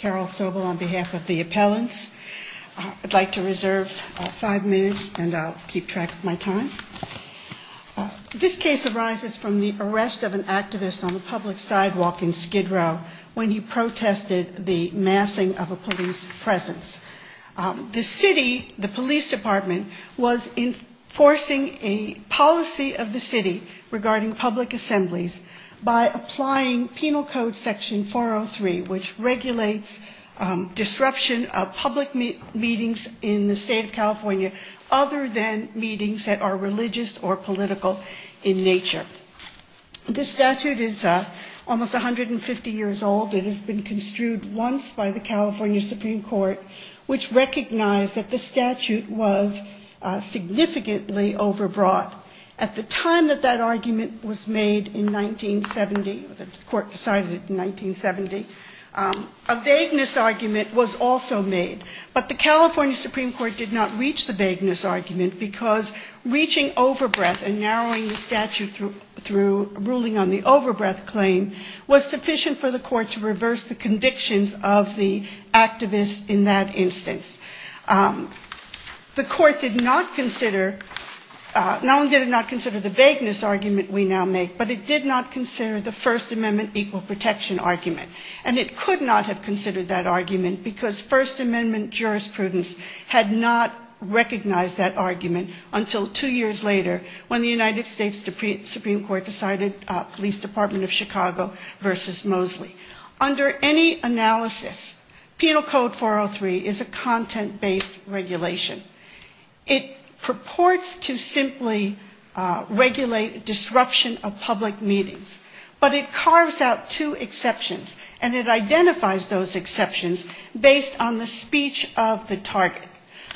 This case arises from the arrest of an activist on a public sidewalk in Skid Row when he protested the massing of a police presence. The city, the police department, was enforcing a policy of the city regarding public assemblies by applying penal code section 403, which regulates disruption of public meetings in the state of California other than meetings that are religious or political in nature. This statute is almost 150 years old and has been construed once by the California Supreme Court, which recognized that this statute was significantly overbroad. At the time that that argument was made in 1970, the court decided in 1970, a vagueness argument was also made. But the California Supreme Court did not reach the vagueness argument because reaching overbreath and narrowing the statute through a ruling on the overbreath claim was sufficient for the court to reverse the convictions of the activist in that instance. The court did not consider, not only did it not consider the vagueness argument we now make, but it did not consider the First Amendment equal protection argument. And it could not have considered that argument because First Amendment jurisprudence had not recognized that argument until two years later when the United States Supreme Court decided, Police Department of Chicago v. Mosley. Under any analysis, Penal Code 403 is a content-based regulation. It purports to simply regulate disruption of public meetings, but it carves out two exceptions, and it identifies those exceptions based on the speech of the target.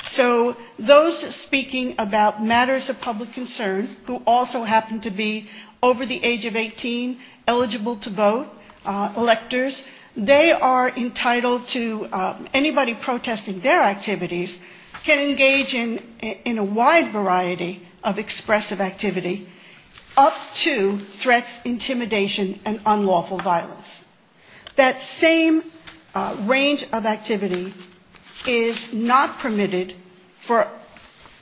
So those speaking about matters of public concern who also happen to be over the age of 18, eligible to vote, electors, they are entitled to anybody protesting their activities can engage in a wide variety of expressive activity up to threats, intimidation, and unlawful violence. That same range of activity is not permitted for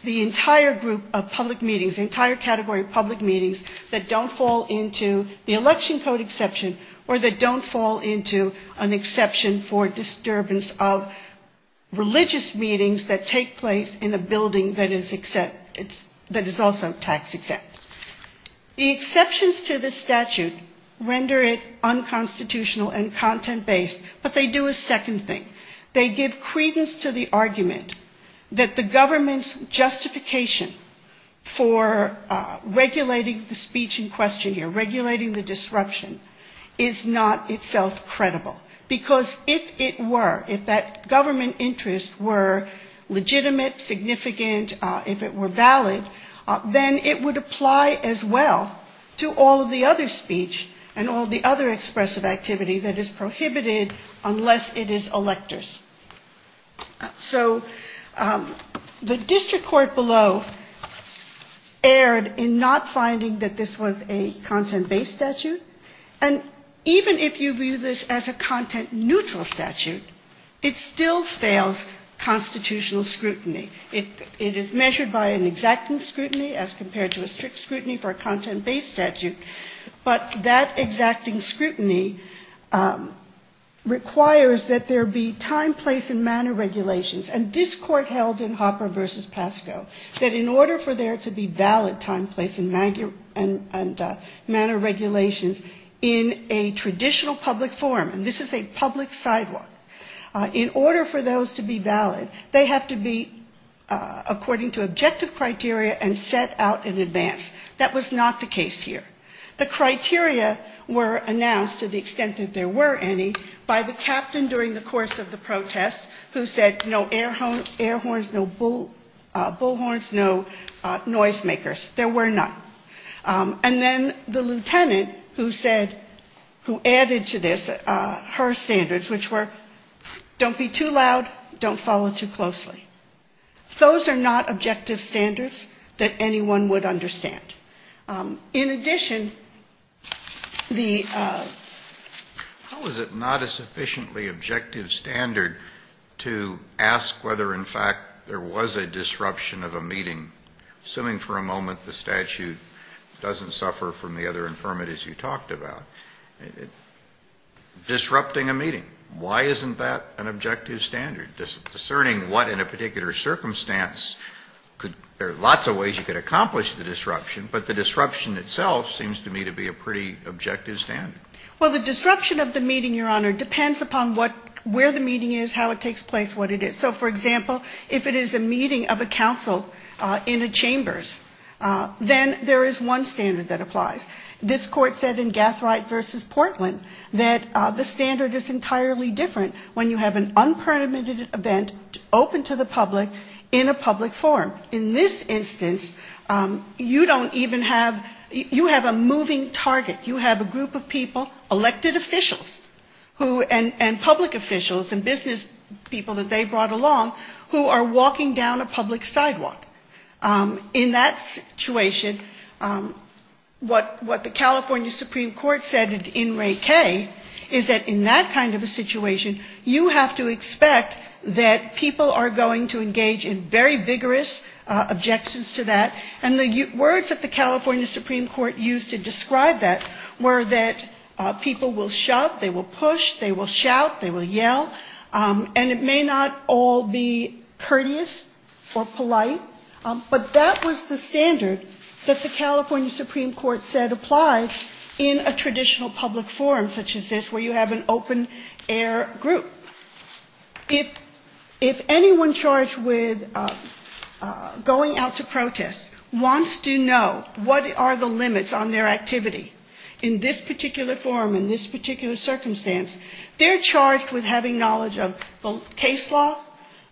the entire group of public meetings, the entire category of public meetings that don't fall into the election code exception or that don't fall into an exception for disturbance of religious meetings that take place in a building that is also tax exempt. The exceptions to the statute render it unconstitutional and content-based, but they do a second thing. They give credence to the argument that the government's justification for regulating the speech in question or regulating the disruption is not itself credible because if it were, if that government interest were legitimate, significant, if it were valid, then it would apply as well to all the other speech and all the other expressive activity that is prohibited unless it is electors. So the district court below erred in not finding that this was a content-based statute, and even if you view this as a content-neutral statute, it still fails constitutional scrutiny. It is measured by an exacting scrutiny as compared to a strict scrutiny for a content-based statute, but that exacting scrutiny requires that there be time, place, and manner regulations, and this court held in Hopper v. Pascoe that in order for there to be valid time, place, and manner regulations in a traditional public forum, and this is a public sidewalk, in order for those to be valid, they have to be according to objective criteria and set out in advance. That was not the case here. The criteria were announced to the extent that there were any by the captain during the course of the protest who said no air horns, no bull horns, no noisemakers. There were none. And then the lieutenant who added to this her standards, which were don't be too loud, don't follow too closely. Those are not objective standards that anyone would understand. In addition, the... How is it not a sufficiently objective standard to ask whether in fact there was a disruption of a meeting, assuming for a moment the statute doesn't suffer from the other infirmities you talked about? Disrupting a meeting, why isn't that an objective standard? Discerning what in a particular circumstance, there are lots of ways you could accomplish the disruption, but the disruption itself seems to me to be a pretty objective standard. Well, the disruption of the meeting, Your Honor, depends upon where the meeting is, how it takes place, what it is. So, for example, if it is a meeting of a council in the chambers, then there is one standard that applies. This court said in Gathright v. Portland that the standard is entirely different when you have an unpermitted event open to the public in a public forum. In this instance, you don't even have... You have a moving target. You have a group of people, elected officials and public officials and business people that they brought along, who are walking down a public sidewalk. In that situation, what the California Supreme Court said in Ray K. is that in that kind of a situation, you have to expect that people are going to engage in very vigorous objections to that. And the words that the California Supreme Court used to describe that were that people will shout, they will push, And it may not all be courteous or polite, but that was the standard that the California Supreme Court said applies in a traditional public forum such as this where you have an open-air group. If anyone charged with going out to protest wants to know what are the limits on their activity in this particular forum, in this particular circumstance, they're charged with having knowledge of the case law,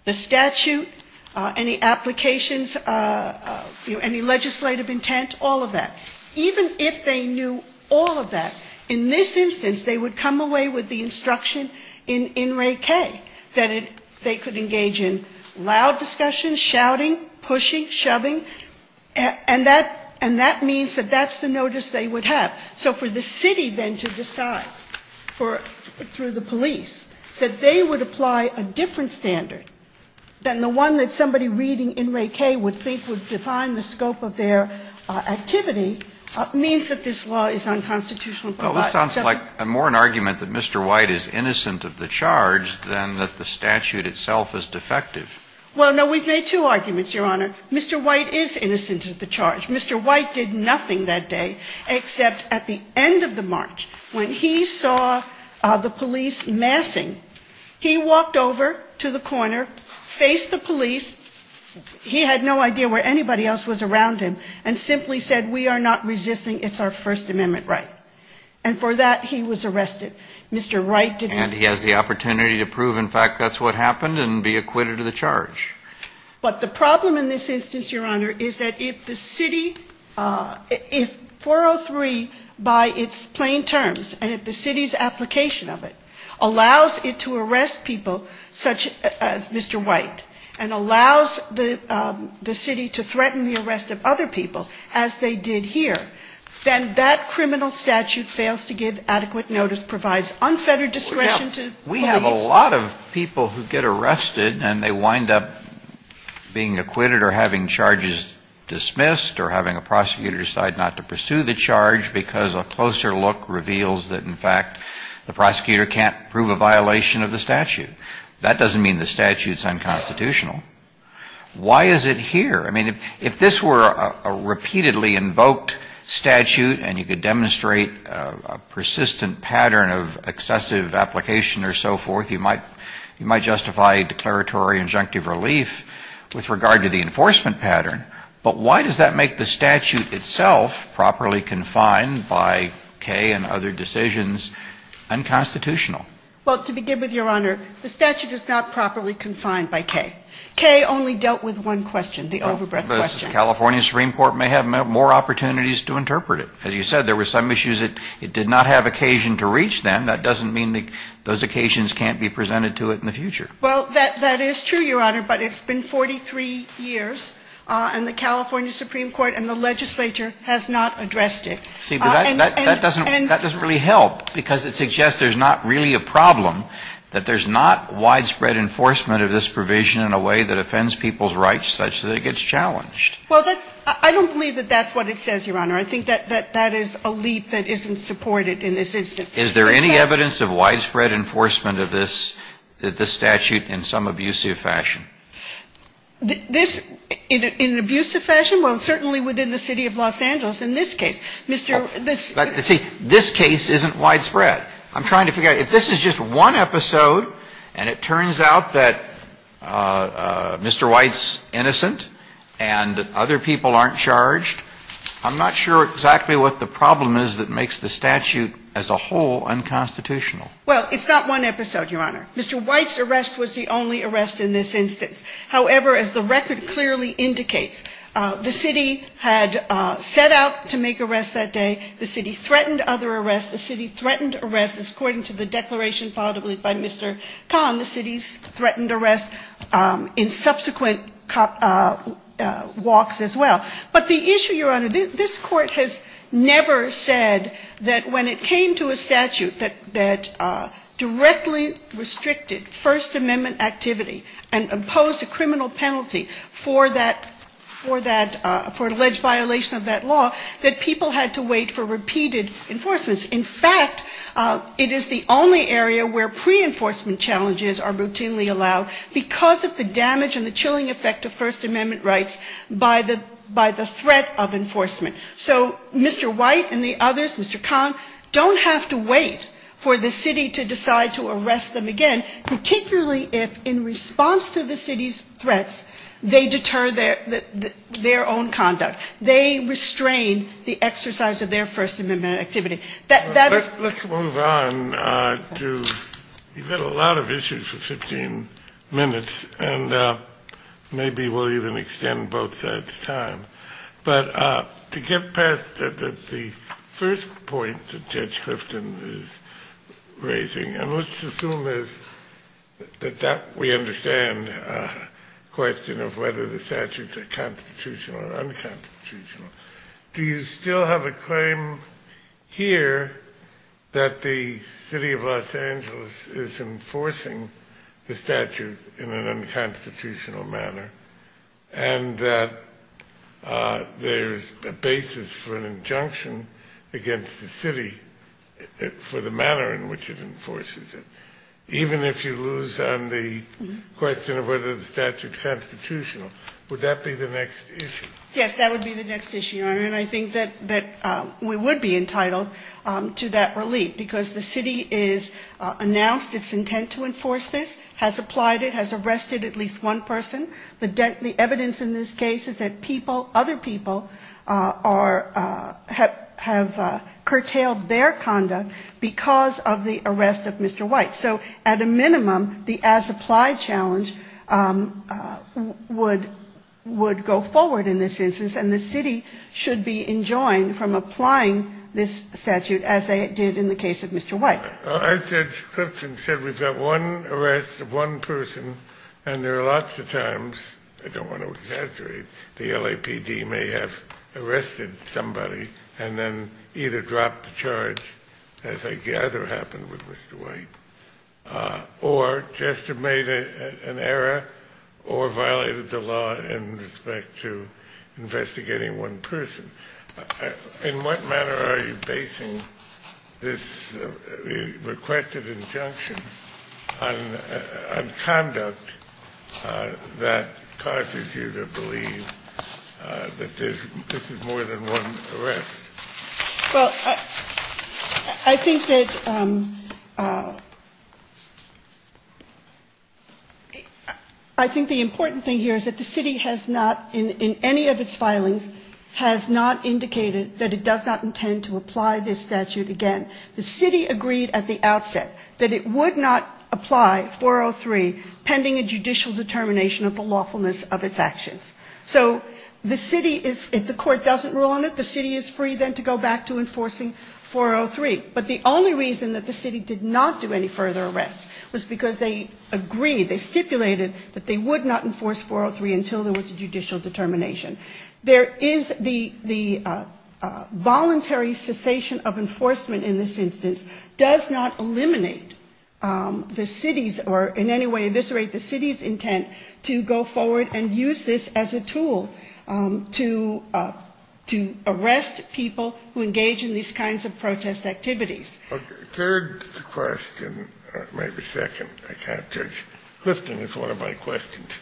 the statute, any applications, any legislative intent, all of that. Even if they knew all of that, in this instance, they would come away with the instruction in Ray K. that they could engage in loud discussion, shouting, pushing, shoving, and that means that that's the notice they would have. So for the city then to decide through the police that they would apply a different standard than the one that somebody reading in Ray K. would think would define the scope of their activity, means that this law is unconstitutional. Well, it sounds like more an argument that Mr. White is innocent of the charge than that the statute itself is defective. Well, no, we've made two arguments, Your Honor. Mr. White is innocent of the charge. Mr. White did nothing that day except at the end of the march, when he saw the police massing, he walked over to the corner, faced the police, he had no idea where anybody else was around him, and simply said, we are not resisting, it's our First Amendment right. And for that, he was arrested. And he has the opportunity to prove, in fact, that's what happened and be acquitted of the charge. But the problem in this instance, Your Honor, is that if the city, if 403 by its plain terms, and if the city's application of it, allows it to arrest people such as Mr. White, and allows the city to threaten the arrest of other people, as they did here, then that criminal statute fails to give adequate notice, provides unfettered discretion to the police. We have a lot of people who get arrested and they wind up being acquitted or having charges dismissed or having a prosecutor decide not to pursue the charge because a closer look reveals that, in fact, the prosecutor can't prove a violation of the statute. That doesn't mean the statute's unconstitutional. Why is it here? I mean, if this were a repeatedly invoked statute and you could demonstrate a persistent pattern of excessive application or so forth, you might justify a declaratory injunctive relief with regard to the enforcement pattern. But why does that make the statute itself properly confined by Kaye and other decisions unconstitutional? Well, to begin with, Your Honor, the statute is not properly confined by Kaye. Kaye only dealt with one question, the overbread question. California Supreme Court may have more opportunities to interpret it. As you said, there were some issues that it did not have occasion to reach then. That doesn't mean those occasions can't be presented to it in the future. Well, that is true, Your Honor, but it's been 43 years, and the California Supreme Court and the legislature have not addressed it. See, but that doesn't really help because it suggests there's not really a problem, that there's not widespread enforcement of this provision in a way that offends people's rights such that it gets challenged. Well, I don't believe that that's what it says, Your Honor. I think that that is a leap that isn't supported in this instance. Is there any evidence of widespread enforcement of this statute in some abusive fashion? In an abusive fashion? Well, certainly within the city of Los Angeles in this case. See, this case isn't widespread. I'm trying to figure out if this is just one episode, and it turns out that Mr. White's innocent and that other people aren't charged, I'm not sure exactly what the problem is that makes the statute as a whole unconstitutional. Well, it's not one episode, Your Honor. Mr. White's arrest was the only arrest in this instance. However, as the record clearly indicates, the city had set out to make arrests that day. The city threatened other arrests. The city threatened arrests. According to the declaration filed by Mr. Conn, the city threatened arrests in subsequent walks as well. But the issue, Your Honor, this court has never said that when it came to a statute that directly restricted First Amendment activity and imposed a criminal penalty for an alleged violation of that law, that people had to wait for repeated enforcements. In fact, it is the only area where pre-enforcement challenges are routinely allowed because of the damage and the chilling effect of First Amendment rights by the threat of enforcement. So Mr. White and the others, Mr. Conn, don't have to wait for the city to decide to arrest them again, particularly if in response to the city's threats, they deter their own conduct. They restrain the exercise of their First Amendment activity. Let's move on. You've had a lot of issues for 15 minutes, and maybe we'll even extend both sides' time. But to get past the first point that Judge Clifton is raising, and let's assume that we understand the question of whether the statutes are constitutional or unconstitutional, do you still have a claim here that the city of Los Angeles is enforcing the statute in an unconstitutional manner and that there's a basis for an injunction against the city for the manner in which it enforces it? Even if you lose on the question of whether the statute's constitutional, would that be the next issue? Yes, that would be the next issue. I mean, I think that we would be entitled to that relief because the city has announced its intent to enforce this, has applied it, has arrested at least one person. The evidence in this case is that other people have curtailed their conduct because of the arrest of Mr. White. So at a minimum, the as-applied challenge would go forward in this instance, and the city should be enjoined from applying this statute as they did in the case of Mr. White. I said, Clipson said, was that one arrest of one person, and there are lots of times, I don't want to exaggerate, the LAPD may have arrested somebody and then either dropped the charge, as I gather happened with Mr. White, or just made an error or violated the law in respect to investigating one person. In what manner are you basing this requested injunction on conduct that causes you to believe that this is more than one arrest? Well, I think that the important thing here is that the city has not, in any of its filings, has not indicated that it does not intend to apply this statute again. The city agreed at the outset that it would not apply 403 pending a judicial determination of the lawfulness of its actions. So the city, if the court doesn't rule on it, the city is free then to go back to enforcing 403. But the only reason that the city did not do any further arrests was because they agreed, they stipulated that they would not enforce 403 until there was a judicial determination. There is the voluntary cessation of enforcement in this instance does not eliminate the city's, or in any way eviscerate the city's intent to go forward and use this as a tool to arrest people who engage in these kinds of protest activities. Third question, or maybe second, I can't judge. Clifton is one of my questions.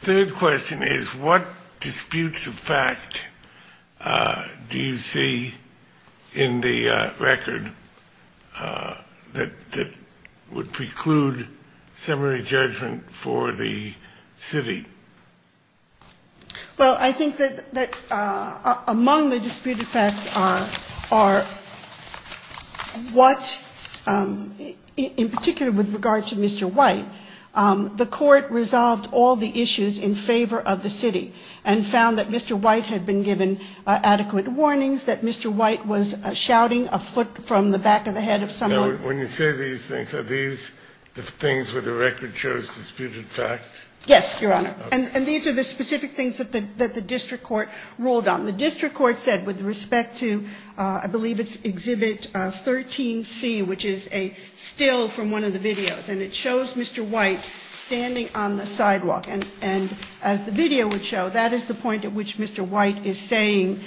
Third question is what disputes of fact do you see in the record that would preclude summary judgment for the city? Well, I think that among the disputed facts are what, in particular with regard to Mr. White, the court resolved all the issues in favor of the city and found that Mr. White had been given adequate warnings, that Mr. White was shouting a foot from the back of the head of someone. When you say these things, are these the things where the record shows disputed facts? Yes, Your Honor. And these are the specific things that the district court ruled on. The district court said with respect to, I believe it's Exhibit 13C, which is a still from one of the videos, and it shows Mr. White standing on the sidewalk. And as the video would show, that is the point at which Mr. White is saying,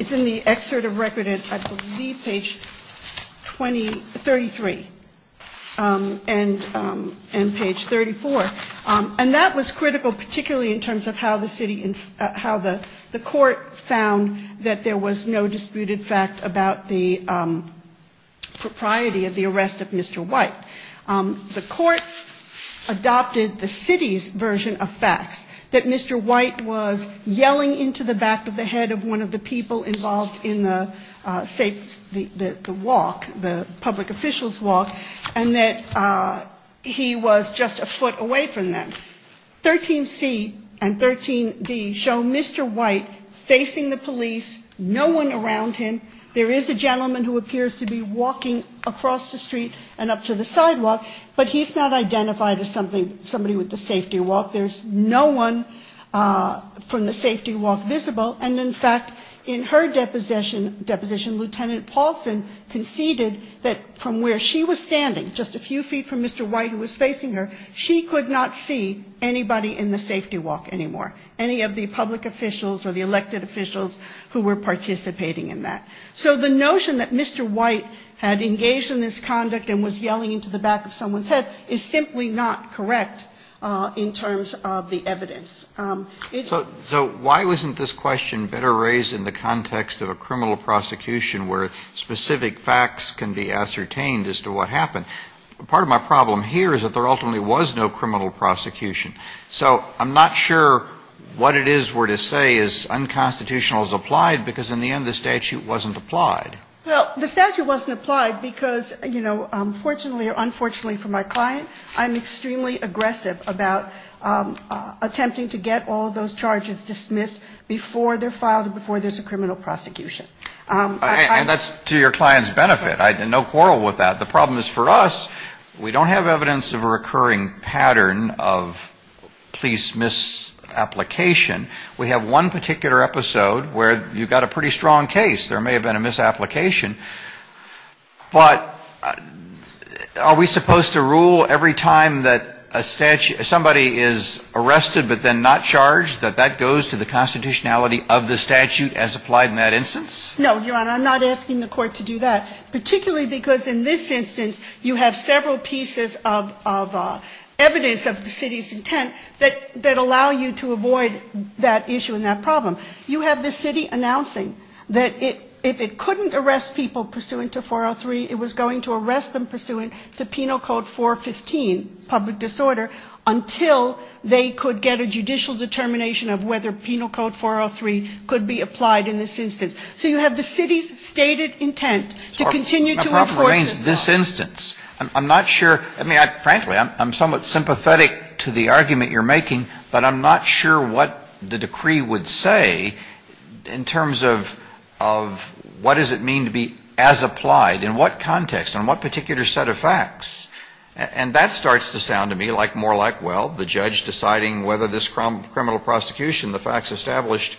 is in the excerpt of record at Exhibit Z, page 33 and page 34. And that was critical, particularly in terms of how the court found that there was no disputed fact about the propriety of the arrest of Mr. White. The court adopted the city's version of facts, that Mr. White was yelling into the back of the head of one of the people involved in the walk, the public official's walk, and that he was just a foot away from them. 13C and 13D show Mr. White facing the police, no one around him. There is a gentleman who appears to be walking across the street and up to the sidewalk, but he's not identified as somebody with the safety walk. There's no one from the safety walk visible. And, in fact, in her deposition, Lieutenant Paulson conceded that from where she was standing, just a few feet from Mr. White who was facing her, she could not see anybody in the safety walk anymore, any of the public officials or the elected officials who were participating in that. So the notion that Mr. White had engaged in this conduct and was yelling into the back of someone's head is simply not correct in terms of the evidence. So why wasn't this question better raised in the context of a criminal prosecution where specific facts can be ascertained as to what happened? Part of my problem here is that there ultimately was no criminal prosecution. So I'm not sure what it is we're to say is unconstitutional as applied because, in the end, the statute wasn't applied. Well, the statute wasn't applied because, you know, fortunately or unfortunately for my client, I'm extremely aggressive about attempting to get all those charges dismissed before they're filed and before there's a criminal prosecution. And that's to your client's benefit. No quarrel with that. The problem is for us, we don't have evidence of a recurring pattern of police misapplication. We have one particular episode where you've got a pretty strong case. There may have been a misapplication. But are we supposed to rule every time that somebody is arrested but then not charged, that that goes to the constitutionality of the statute as applied in that instance? No, Your Honor. And I'm not asking the court to do that, particularly because in this instance, you have several pieces of evidence of the city's intent that allow you to avoid that issue and that problem. You have the city announcing that if it couldn't arrest people pursuant to 403, it was going to arrest them pursuant to Penal Code 415, public disorder, until they could get a judicial determination of whether Penal Code 403 could be applied in this instance. So you have the city's stated intent to continue to enforce it. In this instance, I'm not sure. I mean, frankly, I'm somewhat sympathetic to the argument you're making, but I'm not sure what the decree would say in terms of what does it mean to be as applied, in what context, on what particular set of facts. And that starts to sound to me more like, well, the judge deciding whether this criminal prosecution, the facts established,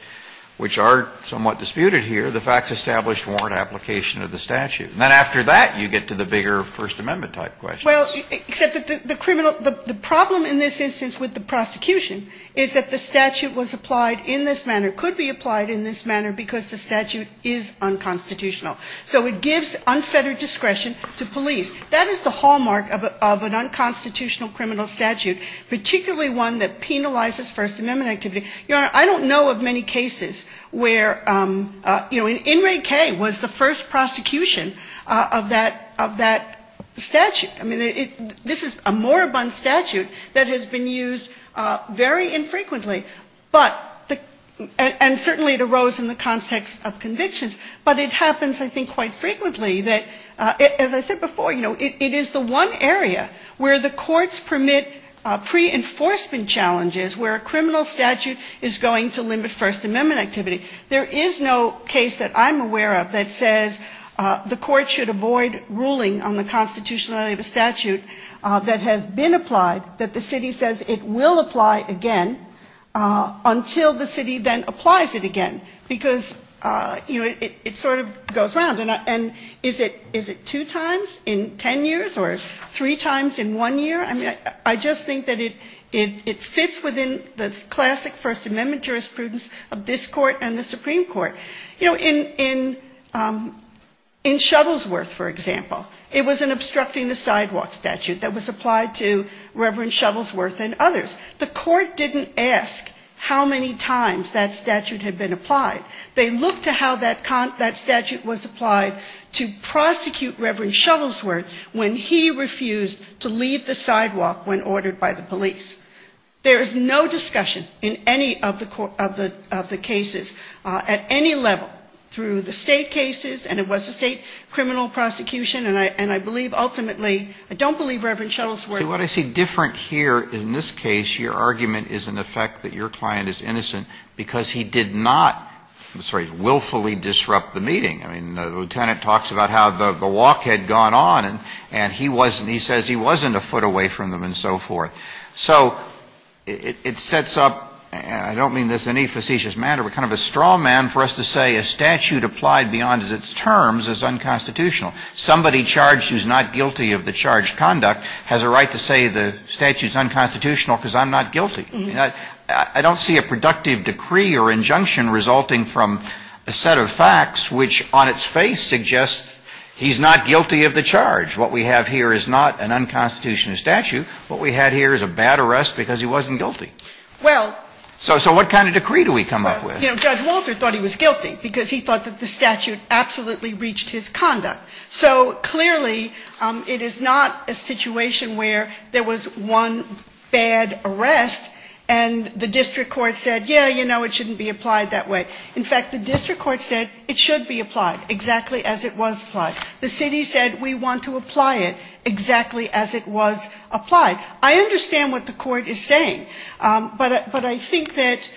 which are somewhat disputed here, the facts established warrant application of the statute. And then after that, you get to the bigger First Amendment-type questions. Well, except that the problem in this instance with the prosecution is that the statute was applied in this manner, could be applied in this manner, because the statute is unconstitutional. So it gives unfettered discretion to police. That is the hallmark of an unconstitutional criminal statute, particularly one that penalizes First Amendment activity. Your Honor, I don't know of many cases where, you know, Inmate K was the first prosecution of that statute. I mean, this is a moribund statute that has been used very infrequently, and certainly it arose in the context of convictions, but it happens, I think, quite frequently that, as I said before, you know, it is the one area where the courts permit pre-enforcement challenges, where a criminal statute is going to limit First Amendment activity. There is no case that I'm aware of that says the court should avoid ruling on the constitutionality of a statute that has been applied, that the city says it will apply again until the city then applies it again, because, you know, it sort of goes round. And is it two times in ten years, or three times in one year? I mean, I just think that it fits within the classic First Amendment jurisprudence of this court and the Supreme Court. You know, in Shuttlesworth, for example, it was an obstructing the sidewalk statute that was applied to Reverend Shuttlesworth and others. The court didn't ask how many times that statute had been applied. They looked at how that statute was applied to prosecute Reverend Shuttlesworth when he refused to leave the sidewalk when ordered by the police. There is no discussion in any of the cases at any level through the state cases, and it was a state criminal prosecution, and I believe ultimately – I don't believe Reverend Shuttlesworth – I'm sorry – willfully disrupt the meeting. I mean, the lieutenant talks about how the walk had gone on, and he says he wasn't a foot away from them and so forth. So it sets up – and I don't mean this in any facetious manner, but kind of a straw man for us to say a statute applied beyond its terms is unconstitutional. Somebody charged who's not guilty of the charged conduct has a right to say the statute's unconstitutional because I'm not guilty. I don't see a productive decree or injunction resulting from a set of facts which on its face suggests he's not guilty of the charge. What we have here is not an unconstitutional statute. What we have here is a bad arrest because he wasn't guilty. So what kind of decree do we come up with? Judge Walter thought he was guilty because he thought that the statute absolutely reached his conduct. So clearly it is not a situation where there was one bad arrest and the district court said, yeah, you know, it shouldn't be applied that way. In fact, the district court said it should be applied exactly as it was applied. The city said we want to apply it exactly as it was applied. I understand what the court is saying, but I think that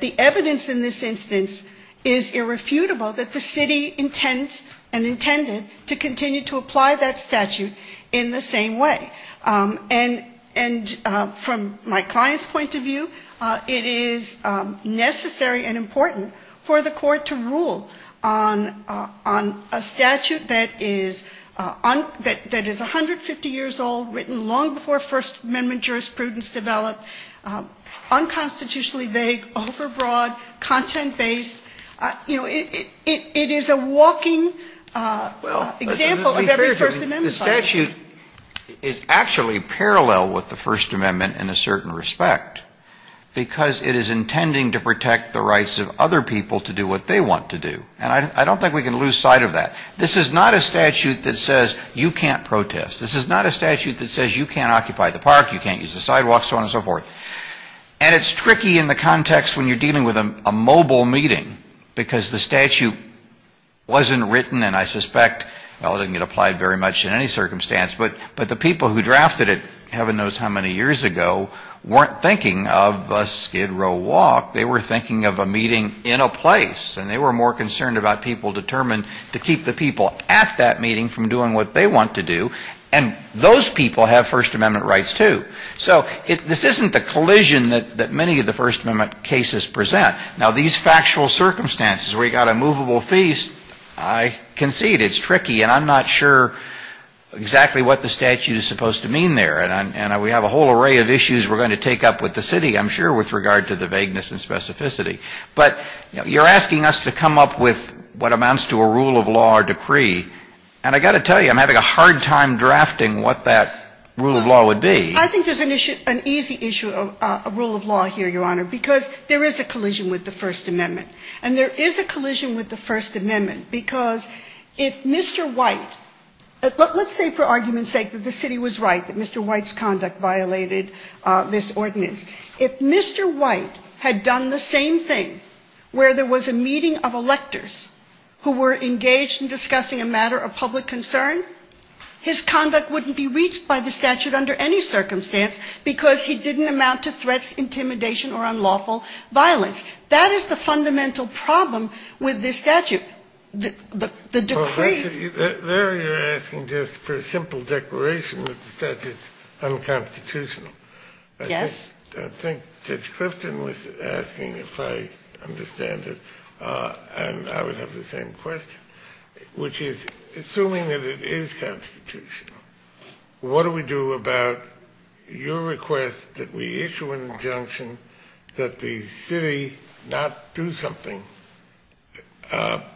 the evidence in this instance is irrefutable that the city intends and intended to continue to apply that statute in the same way. And from my client's point of view, it is necessary and important for the court to rule on a statute that is 150 years old, written long before First Amendment jurisprudence developed, unconstitutionally vague, overbroad, content-based. You know, it is a walking example of every First Amendment. The statute is actually parallel with the First Amendment in a certain respect because it is intending to protect the rights of other people to do what they want to do. And I don't think we can lose sight of that. This is not a statute that says you can't protest. This is not a statute that says you can't occupy the park, you can't use the sidewalks, so on and so forth. And it's tricky in the context when you're dealing with a mobile meeting because the statute wasn't written, and I suspect, well, it didn't get applied very much in any circumstance, but the people who drafted it heaven knows how many years ago weren't thinking of a skid row walk. They were thinking of a meeting in a place. And they were more concerned about people determined to keep the people at that meeting from doing what they want to do. And those people have First Amendment rights, too. So this isn't the collision that many of the First Amendment cases present. Now, these factual circumstances where you've got a movable feast, I concede it's tricky, and I'm not sure exactly what the statute is supposed to mean there. And we have a whole array of issues we're going to take up with the city, I'm sure, with regard to the vagueness and specificity. But you're asking us to come up with what amounts to a rule of law or decree, and I've got to tell you I'm having a hard time drafting what that rule of law would be. I think there's an easy issue of rule of law here, Your Honor, because there is a collision with the First Amendment. And there is a collision with the First Amendment because if Mr. White – let's say for argument's sake that the city was right that Mr. White's conduct violated this ordinance. If Mr. White had done the same thing where there was a meeting of electors who were engaged in discussing a matter of public concern, his conduct wouldn't be reached by the statute under any circumstance because he didn't amount to threats, intimidation, or unlawful violence. That is the fundamental problem with this statute, the decree. Larry, you're asking just for a simple declaration that the statute is unconstitutional. Yes. I think Judge Christin was asking, if I understand it, and I would have the same question, which is, assuming that it is constitutional, what do we do about your request that we issue an injunction that the city not do something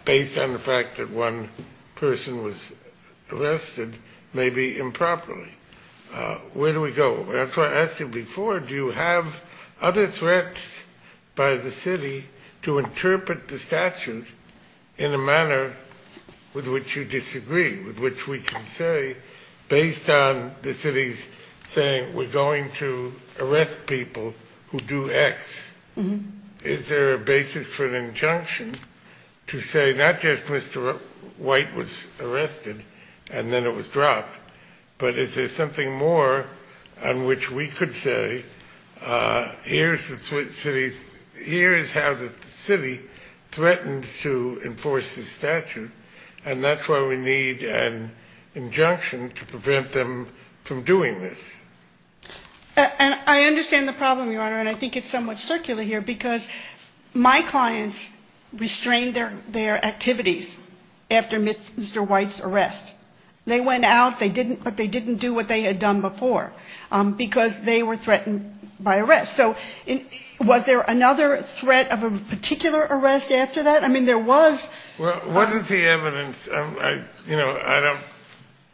based on the fact that one person was arrested, maybe improperly? Where do we go? That's what I asked you before. Do you have other threats by the city to interpret the statute in a manner with which you disagree, with which we can say based on the city's saying we're going to arrest people who do X, is there a basis for an injunction to say not just Mr. White was arrested and then it was dropped, but is there something more on which we could say here is how the city threatens to enforce this statute, and that's why we need an injunction to prevent them from doing this. I understand the problem, Your Honor, and I think it's somewhat circular here, because my clients restrained their activities after Mr. White's arrest. They went out, but they didn't do what they had done before, because they were threatened by arrest. So was there another threat of a particular arrest after that? I mean, there was. Well, what is the evidence? You know, I don't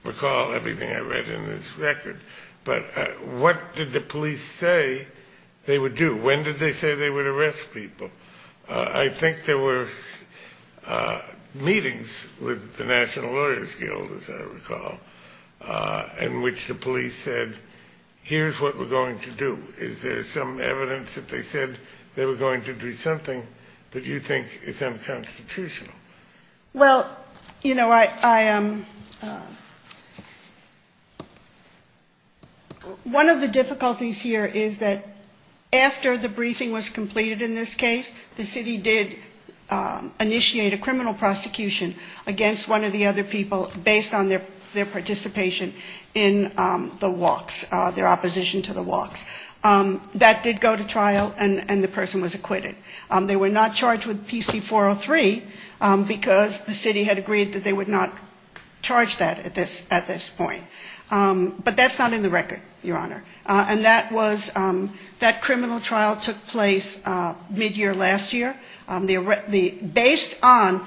recall everything I read in this record, but what did the police say they would do? When did they say they would arrest people? I think there were meetings with the National Lawyers Guild, as I recall, in which the police said, here's what we're going to do. Is there some evidence that they said they were going to do something that you think is unconstitutional? Well, you know, one of the difficulties here is that after the briefing was completed in this case, the city did initiate a criminal prosecution against one of the other people based on their participation in the walks, their opposition to the walks. That did go to trial, and the person was acquitted. They were not charged with PC 403, because the city had agreed that they would not charge that at this point. But that's not in the record, Your Honor. And that criminal trial took place mid-year last year, based on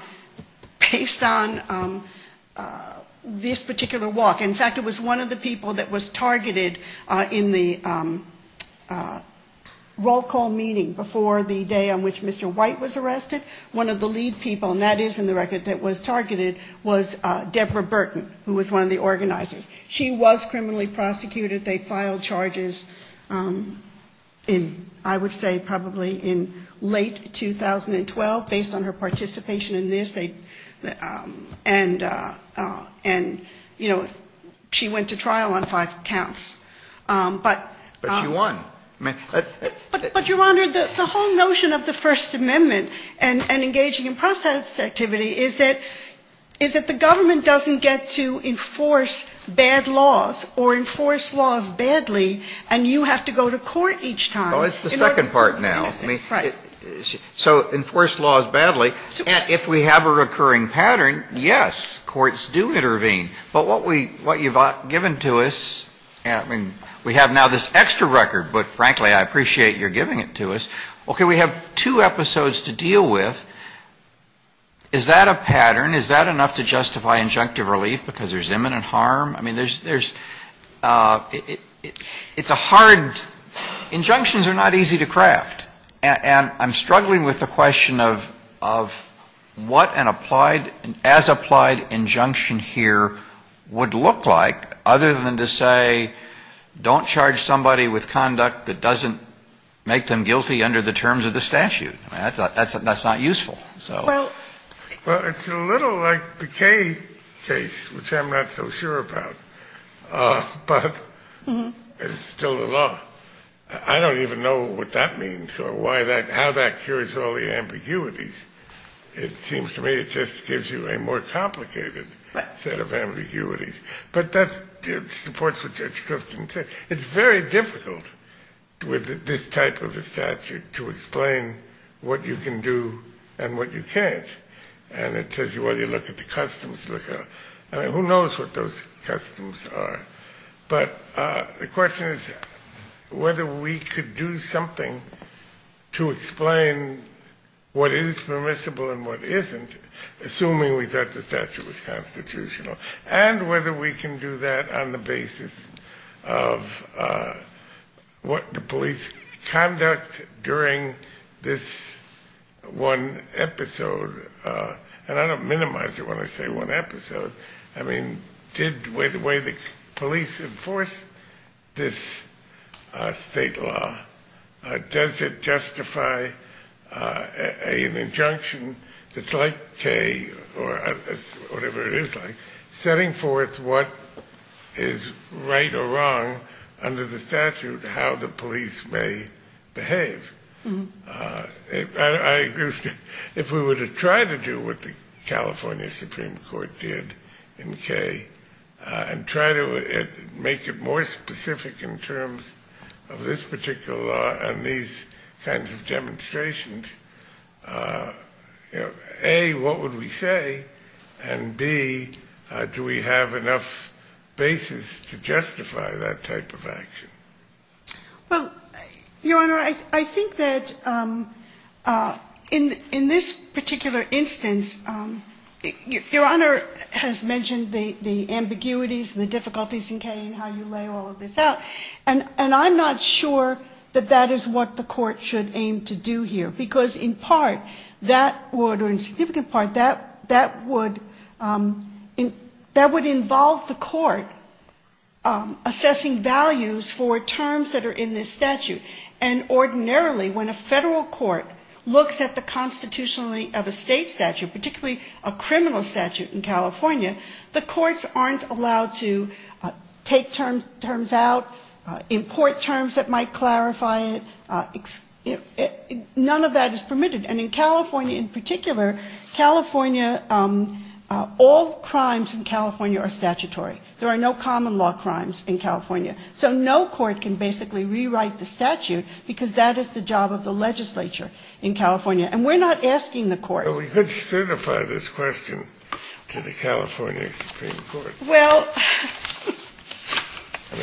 this particular walk. In fact, it was one of the people that was targeted in the roll call meeting before the day on which Mr. White was arrested. One of the lead people, and that is in the record, that was targeted was Deborah Burton, who was one of the organizers. She was criminally prosecuted. They filed charges in, I would say, probably in late 2012, based on her participation in this. And, you know, she went to trial on five counts. But she won. But, Your Honor, the whole notion of the First Amendment and engaging in process activity is that the government doesn't get to enforce bad laws or enforce laws badly, and you have to go to court each time. Well, that's the second part now. Right. So enforce laws badly. If we have a recurring pattern, yes, courts do intervene. But what you've given to us, I mean, we have now this extra record, but frankly, I appreciate your giving it to us. Okay, we have two episodes to deal with. Is that a pattern? Is that enough to justify injunctive relief because there's imminent harm? I mean, there's – it's a hard – injunctions are not easy to craft. And I'm struggling with the question of what an applied – as applied injunction here would look like, other than to say don't charge somebody with conduct that doesn't make them guilty under the terms of the statute. That's not useful. Well, it's a little like the Kaye case, which I'm not so sure about, but it's still a law. I don't even know what that means or why that – how that cures all the ambiguities. It seems to me it just gives you a more complicated set of ambiguities. But that supports what Judge Kristen said. It's very difficult with this type of a statute to explain what you can do and what you can't. And it says, well, you look at the customs. Who knows what those customs are? But the question is whether we could do something to explain what is permissible and what isn't, assuming we get the statute as constitutional, and whether we can do that on the basis of what the police conduct during this one episode. And I don't minimize it when I say one episode. I mean, did the way the police enforce this state law, does it justify an injunction that's like Kaye or whatever it is like, setting forth what is right or wrong under the statute, how the police may behave? If we were to try to do what the California Supreme Court did in Kaye and try to make it more specific in terms of this particular law and these kinds of demonstrations, A, what would we say, and B, do we have enough basis to justify that type of action? Well, Your Honor, I think that in this particular instance, Your Honor has mentioned the ambiguities and the difficulties in Kaye and how you lay all of this out, and I'm not sure that that is what the court should aim to do here. Because in part, or in significant part, that would involve the court assessing values for terms that are in this statute. And ordinarily, when a federal court looks at the constitutionality of a state statute, particularly a criminal statute in California, the courts aren't allowed to take terms out, import terms that might clarify it, none of that is permitted. And in California in particular, California, all crimes in California are statutory. There are no common law crimes in California. So no court can basically rewrite the statute because that is the job of the legislature in California. And we're not asking the court. Well, we could certify this question to the California Supreme Court. Well, it's going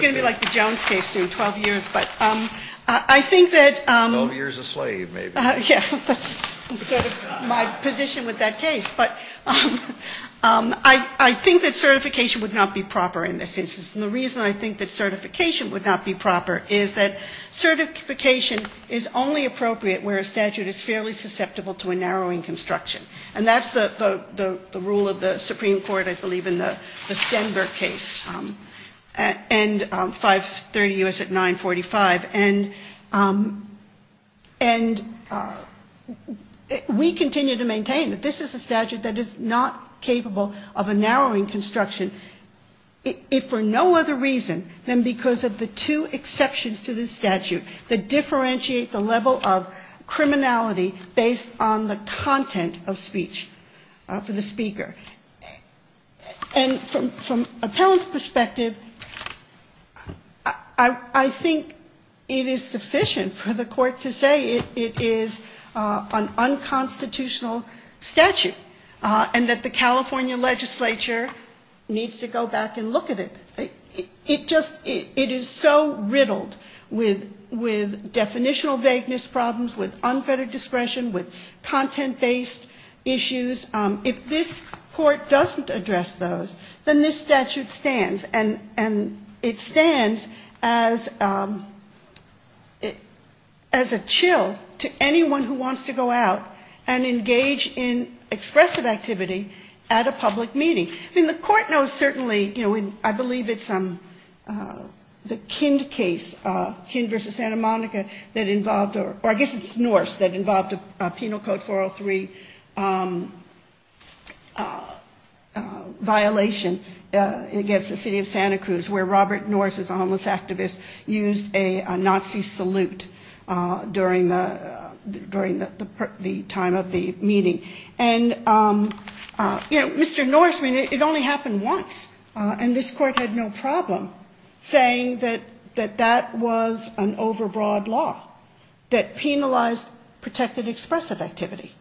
to be like the Jones case in 12 years, but I think that my position with that case, but I think that certification would not be proper in this instance. And the reason I think that certification would not be proper is that certification is only appropriate where a statute is fairly susceptible to a narrowing construction. And that's the rule of the Supreme Court, I believe, in the Stenberg case, and 530 U.S. at 945. And we continue to maintain that this is a statute that is not capable of a narrowing construction, if for no other reason than because of the two exceptions to this statute that differentiate the level of criminality based on the content of speech for the speaker. And from appellant's perspective, I think it is sufficient for the court to say it is an unconstitutional statute and that the California legislature needs to go back and look at it. It is so riddled with definitional vagueness problems, with unfettered discretion, with content-based issues. If this court doesn't address those, then this statute stands. And it stands as a chill to anyone who wants to go out and engage in expressive activity at a public meeting. And the court knows, certainly, I believe it's the Kind case, Kind v. Santa Monica, that involved, or I guess it's Norse, that involved a Penal Code 403 violation against the city of Santa Cruz, where Robert Norse, an homeless activist, used a Nazi salute during the time of the meeting. And, you know, Mr. Norseman, it only happened once. And this court had no problem saying that that was an overbroad law that penalized protected expressive activity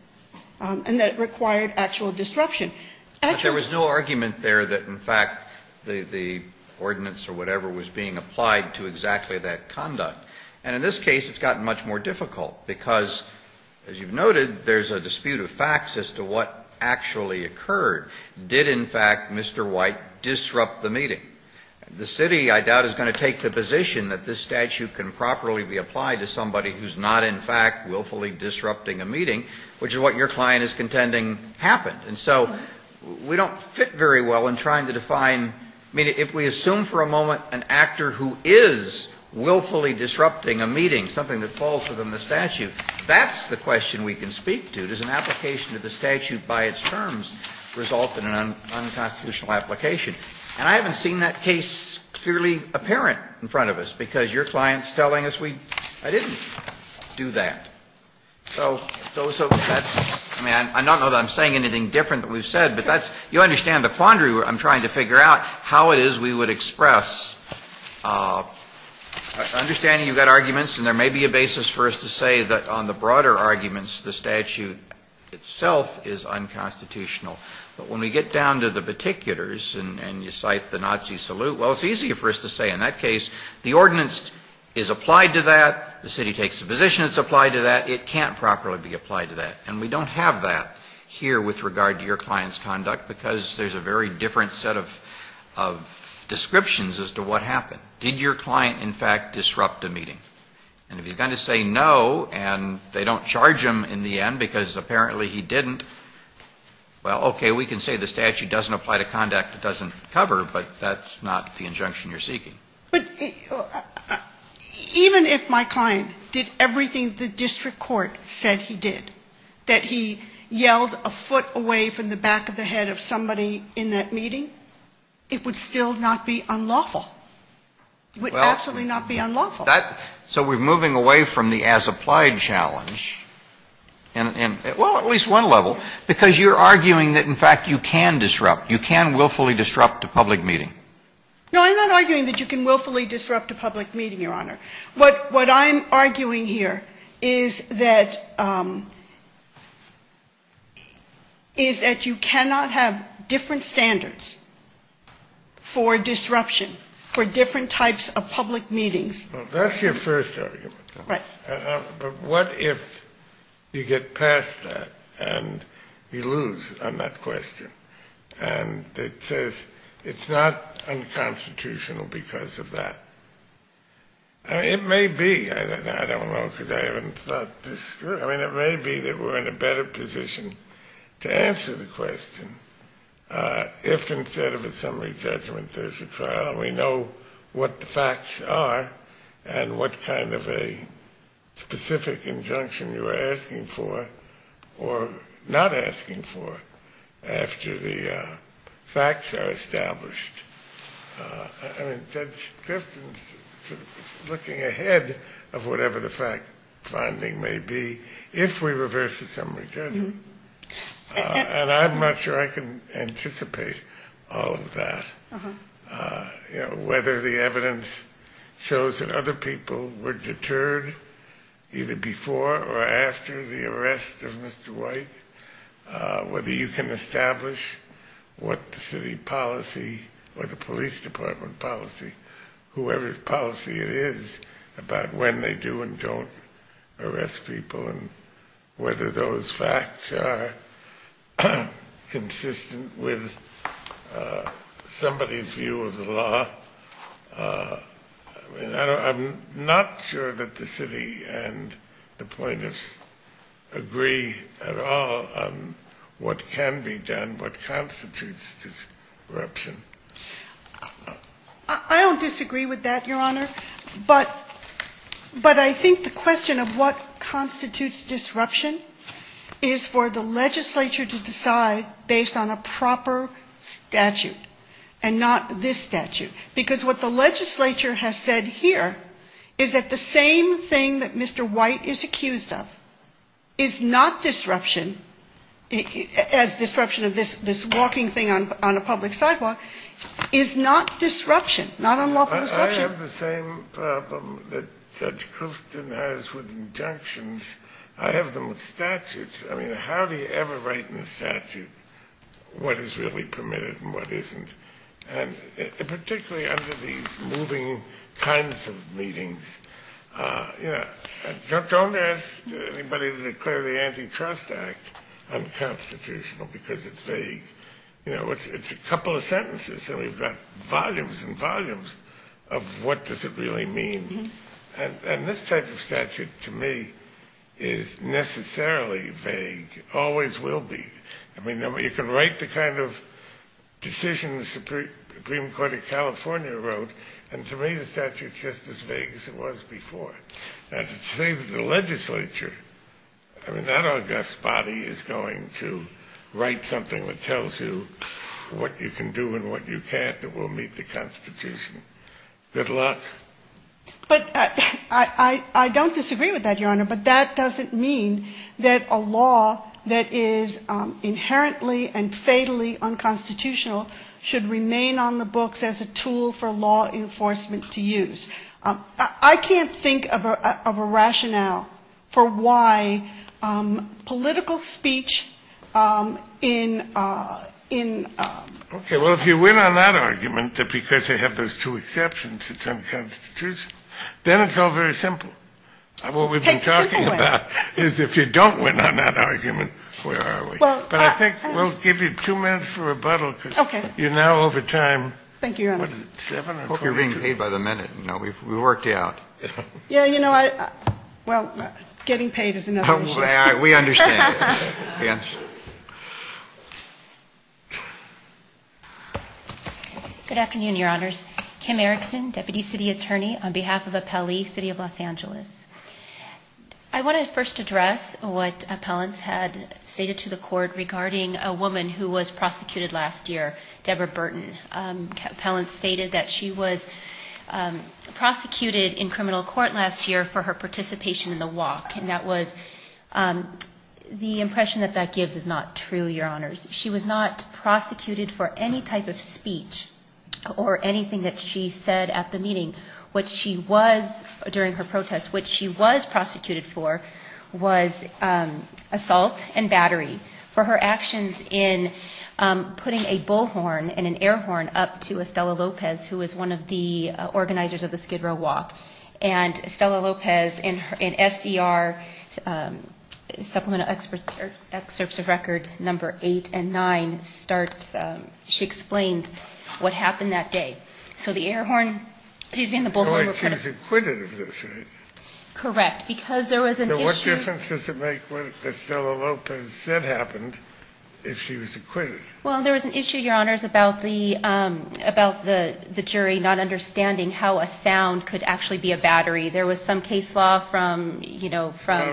and that required actual disruption. But there was no argument there that, in fact, the ordinance or whatever was being applied to exactly that conduct. And in this case, it's gotten much more difficult because, as you've noted, there's a dispute of facts as to what actually occurred. Did, in fact, Mr. White disrupt the meeting? The city, I doubt, is going to take the position that this statute can properly be applied to somebody who's not, in fact, willfully disrupting a meeting, which is what your client is contending happened. And so we don't fit very well in trying to define. I mean, if we assume for a moment an actor who is willfully disrupting a meeting, something that falls within the statute, that's the question we can speak to. Does an application of the statute by its terms result in an unconstitutional application? And I haven't seen that case clearly apparent in front of us because your client's telling us I didn't do that. So, I don't know that I'm saying anything different than we've said, but you understand the quandary I'm trying to figure out, how it is we would express. I understand you've got arguments, and there may be a basis for us to say that on the broader arguments, the statute itself is unconstitutional. But when we get down to the particulars and you cite the Nazi salute, well, it's easier for us to say, in that case, the ordinance is applied to that, the city takes the position it's applied to that, it can't properly be applied to that. And we don't have that here with regard to your client's conduct because there's a very different set of descriptions as to what happened. Did your client, in fact, disrupt a meeting? And if you're going to say no and they don't charge him in the end because apparently he didn't, well, okay, we can say the statute doesn't apply to conduct it doesn't cover, but that's not the injunction you're seeking. But even if my client did everything the district court said he did, that he yelled a foot away from the back of the head of somebody in that meeting, it would still not be unlawful. It would absolutely not be unlawful. So we're moving away from the as applied challenge, well, at least one level, because you're arguing that, in fact, you can disrupt, you can willfully disrupt a public meeting. No, I'm not arguing that you can willfully disrupt a public meeting, Your Honor. What I'm arguing here is that you cannot have different standards for disruption, for different types of public meetings. Well, that's your first argument. Right. But what if you get past that and you lose on that question? And it says it's not unconstitutional because of that. It may be. I don't know because I haven't thought this through. I mean, it may be that we're in a better position to answer the question if instead of assembly judgment there's a trial and we know what the facts are and what kind of a specific injunction you're asking for or not asking for after the facts are established. I mean, that's just looking ahead of whatever the fact finding may be if we reverse assembly judgment. And I'm not sure I can anticipate all of that, you know, whether the evidence shows that other people were deterred either before or after the arrest of Mr. White, whether you can establish what the city policy or the police department policy, whoever's policy it is about when they do and don't arrest people and whether those facts are consistent with somebody's view of the law. I'm not sure that the city and the plaintiffs agree at all on what can be done, what constitutes disruption. I don't disagree with that, Your Honor. But I think the question of what constitutes disruption is for the legislature to decide based on a proper statute and not this statute. Because what the legislature has said here is that the same thing that Mr. White is accused of is not disruption, as disruption of this walking thing on a public sidewalk, is not disruption, not unlawful disruption. I have the same problem that Judge Crouften has with injunctions. I have them with statutes. I mean, how do you ever write in a statute what is really permitted and what isn't? And particularly under these moving kinds of meetings, you know, don't ask anybody to declare the Antitrust Act unconstitutional because it's vague. It's a couple of sentences, and we've got volumes and volumes of what does it really mean. And this type of statute, to me, is necessarily vague, always will be. I mean, you can write the kind of decision the Supreme Court of California wrote, and to me the statute's just as vague as it was before. As it's vague with the legislature, I mean, I don't think this body is going to write something that tells you what you can do and what you can't that will meet the Constitution. Good luck. But I don't disagree with that, Your Honor, but that doesn't mean that a law that is inherently and fatally unconstitutional should remain on the books as a tool for law enforcement to use. I can't think of a rationale for why political speech in... Okay, well, if you win on that argument because you have those two exceptions, it's unconstitutional. Then it's all very simple. What we've been talking about is if you don't win on that argument, where are we? But I think we'll give you two minutes for rebuttal because you're now over time. Thank you, Your Honor. I hope you're getting paid by the minute. We worked you out. Yeah, you know, well, getting paid is another issue. We understand. Good afternoon, Your Honors. Kim Erickson, Deputy City Attorney on behalf of Appellee City of Los Angeles. I want to first address what Appellants had stated to the Court regarding a woman who was prosecuted last year, Deborah Burton. Appellants stated that she was prosecuted in criminal court last year for her participation in the walk, and that was... The impression that that gives is not true, Your Honors. She was not prosecuted for any type of speech or anything that she said at the meeting. What she was, during her protest, what she was prosecuted for was assault and battery. For her actions in putting a bullhorn and an air horn up to Estela Lopez, who was one of the organizers of the Skid Row walk. And Estela Lopez, in SDR, Supplemental Excerpts of Records Number 8 and 9, starts, she explains what happened that day. So the air horn, excuse me, and the bullhorn were... She was acquitted of this, right? Correct, because there was an issue... that Estela Lopez said happened, is she was acquitted. Well, there was an issue, Your Honors, about the jury not understanding how a sound could actually be a battery. There was some case law from, you know, from...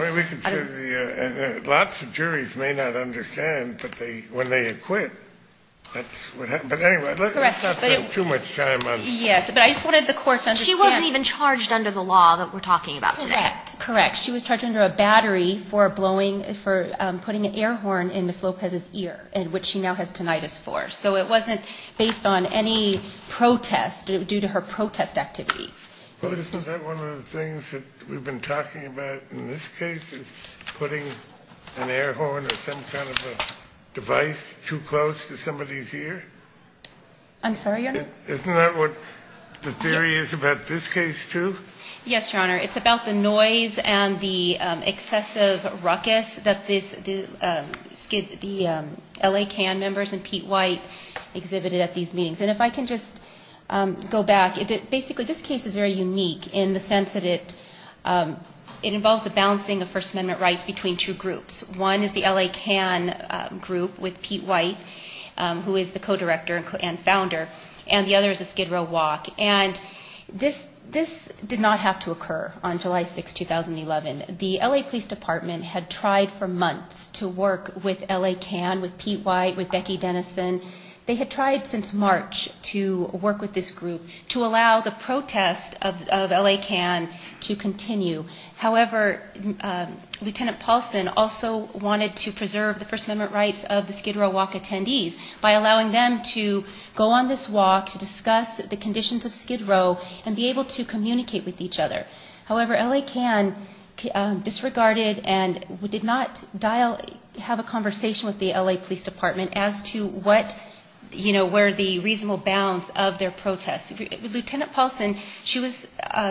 Lots of juries may not understand that when they acquit, that's what happens. But anyway, let's not spend too much time on... Yes, but I just wanted the Court to understand... She wasn't even charged under the law that we're talking about today. Correct. She was charged under a battery for blowing, for putting an air horn in Ms. Lopez's ear, which she now has tinnitus for. So it wasn't based on any protest, due to her protest activity. Well, isn't that one of the things that we've been talking about in this case, is putting an air horn at some kind of a device too close to somebody's ear? I'm sorry, Your Honor? Isn't that what the theory is about this case, too? Yes, Your Honor. It's about the noise and the excessive ruckus that the L.A. CAN members and Pete White exhibited at these meetings. And if I can just go back. Basically, this case is very unique in the sense that it involves the balancing of First Amendment rights between two groups. One is the L.A. CAN group with Pete White, who is the co-director and founder. And the other is the Skid Row walk. And this did not have to occur on July 6, 2011. The L.A. Police Department had tried for months to work with L.A. CAN, with Pete White, with Becky Dennison. They had tried since March to work with this group to allow the protest of L.A. CAN to continue. However, Lieutenant Paulson also wanted to preserve the First Amendment rights of the Skid Row walk attendees by allowing them to go on this walk to discuss the conditions of Skid Row and be able to communicate with each other. However, L.A. CAN disregarded and did not have a conversation with the L.A. Police Department as to where the reasonable bounds of their protest. Lieutenant Paulson, she was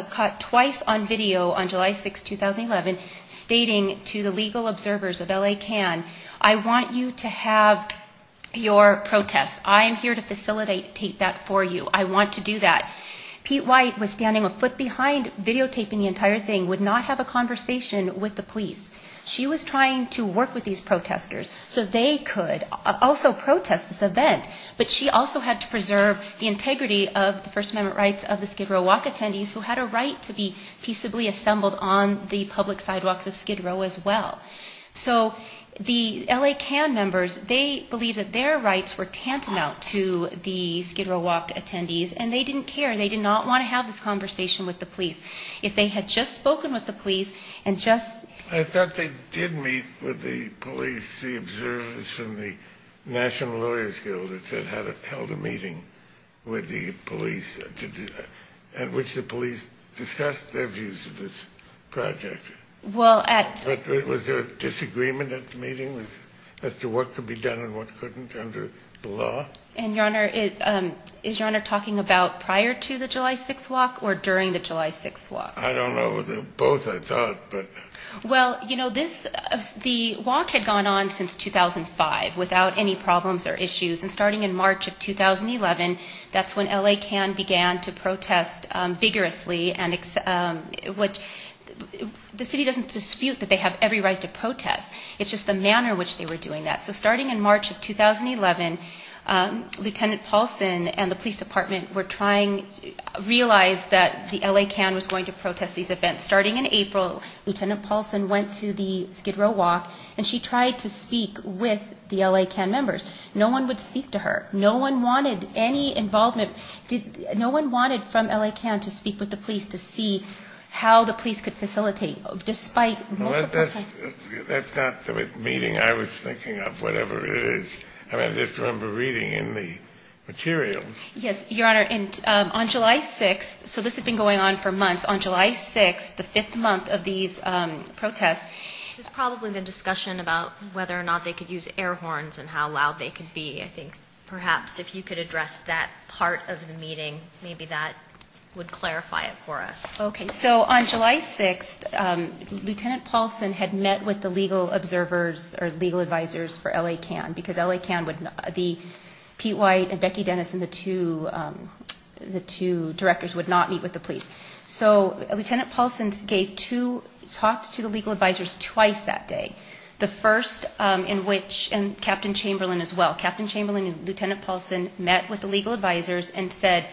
caught twice on video on July 6, 2011, stating to the legal observers with L.A. CAN, I want you to have your protest. I am here to facilitate that for you. I want to do that. Pete White was standing a foot behind videotaping the entire thing, would not have a conversation with the police. She was trying to work with these protesters so they could also protest this event. But she also had to preserve the integrity of the First Amendment rights of the Skid Row walk attendees who had a right to be peaceably assembled on the public sidewalk of Skid Row as well. So the L.A. CAN members, they believed that their rights were tantamount to the Skid Row walk attendees, and they didn't care. They did not want to have this conversation with the police. If they had just spoken with the police and just... I thought they did meet with the police observers from the National Lawyers Guild that held a meeting with the police at which the police discussed their views of this project. Was there a disagreement at the meeting as to what could be done and what couldn't under the law? And Your Honor, is Your Honor talking about prior to the July 6th walk or during the July 6th walk? I don't know. Both, I thought. Well, you know, the walk had gone on since 2005 without any problems or issues. And starting in March of 2011, that's when L.A. CAN began to protest vigorously. The city doesn't dispute that they have every right to protest. It's just the manner in which they were doing that. So starting in March of 2011, Lieutenant Paulson and the police department were trying... realized that the L.A. CAN was going to protest these events. Starting in April, Lieutenant Paulson went to the Skid Row walk, and she tried to speak with the L.A. CAN members. No one would speak to her. No one wanted any involvement. No one wanted some L.A. CAN to speak with the police to see how the police could facilitate, despite... Well, that's not the meeting I was thinking of, whatever it is. I just remember reading in the materials. Yes, Your Honor, and on July 6th, so this had been going on for months. On July 6th, the fifth month of these protests, there's probably been discussion about whether or not they could use air horns and how loud they could be. Perhaps if you could address that part of the meeting, maybe that would clarify it for us. Okay, so on July 6th, Lieutenant Paulson had met with the legal observers or legal advisors for L.A. CAN, because L.A. CAN would be Pete White and Becky Dennis, and the two directors would not meet with the police. So Lieutenant Paulson gave two talks to the legal advisors twice that day. The first in which Captain Chamberlain as well, Captain Chamberlain and Lieutenant Paulson met with the legal advisors and said,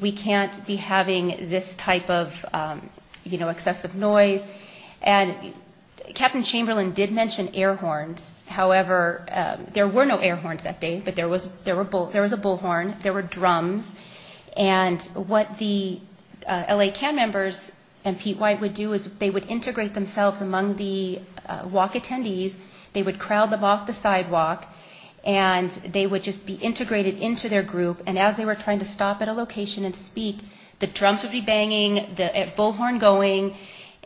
we can't be having this type of excessive noise. And Captain Chamberlain did mention air horns. However, there were no air horns that day, but there was a bullhorn, there were drums. And what the L.A. CAN members and Pete White would do is they would integrate themselves among the walk attendees, they would crowd them off the sidewalk, and they would just be integrated into their group, and as they were trying to stop at a location and speak, the drums would be banging, the bullhorn going,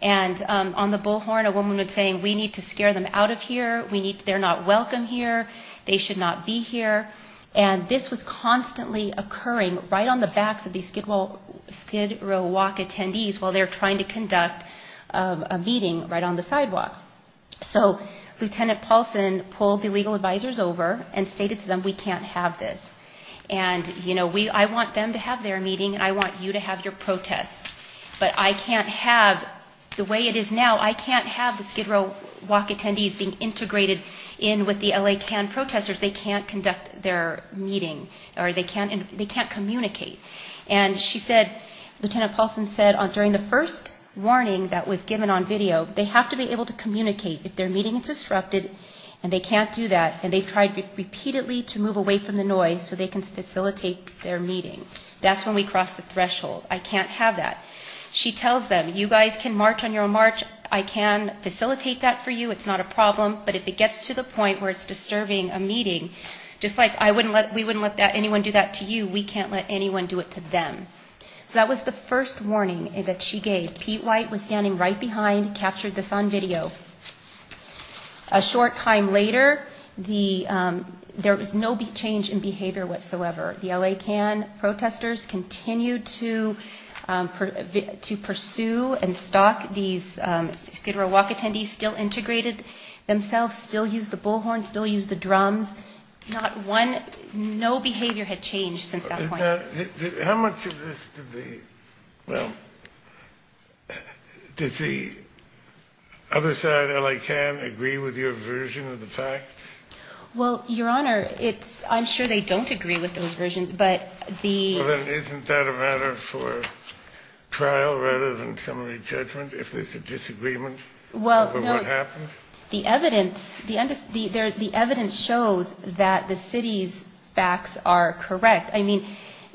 and on the bullhorn a woman would say, we need to scare them out of here, they're not welcome here, they should not be here. And this was constantly occurring right on the backs of these Skid Row walk attendees while they were trying to conduct a meeting right on the sidewalk. So Lieutenant Paulson pulled the legal advisors over and stated to them, we can't have this. And, you know, I want them to have their meeting and I want you to have your protest. But I can't have, the way it is now, I can't have the Skid Row walk attendees being integrated in with the L.A. CAN protesters. They can't conduct their meeting, or they can't communicate. And she said, Lieutenant Paulson said, during the first warning that was given on video, they have to be able to communicate if their meeting is disrupted, and they can't do that, and they've tried repeatedly to move away from the noise so they can facilitate their meeting. That's when we cross the threshold. I can't have that. She tells them, you guys can march on your march, I can facilitate that for you, it's not a problem, but if it gets to the point where it's disturbing a meeting, just like we wouldn't let anyone do that to you, we can't let anyone do it to them. So that was the first warning that she gave. Pete White was standing right behind, captured this on video. A short time later, there was no big change in behavior whatsoever. The L.A. CAN protesters continued to pursue and stalk these Skid Row walk attendees, still integrated themselves, still used the bullhorn, still used the drums. No behavior had changed since that point. How much of this does the other side, L.A. CAN, agree with your version of the facts? Well, Your Honor, I'm sure they don't agree with those versions, but the... Isn't that a matter for trial rather than summary judgment, if there's a disagreement over what happened? The evidence shows that the city's facts are correct. I mean,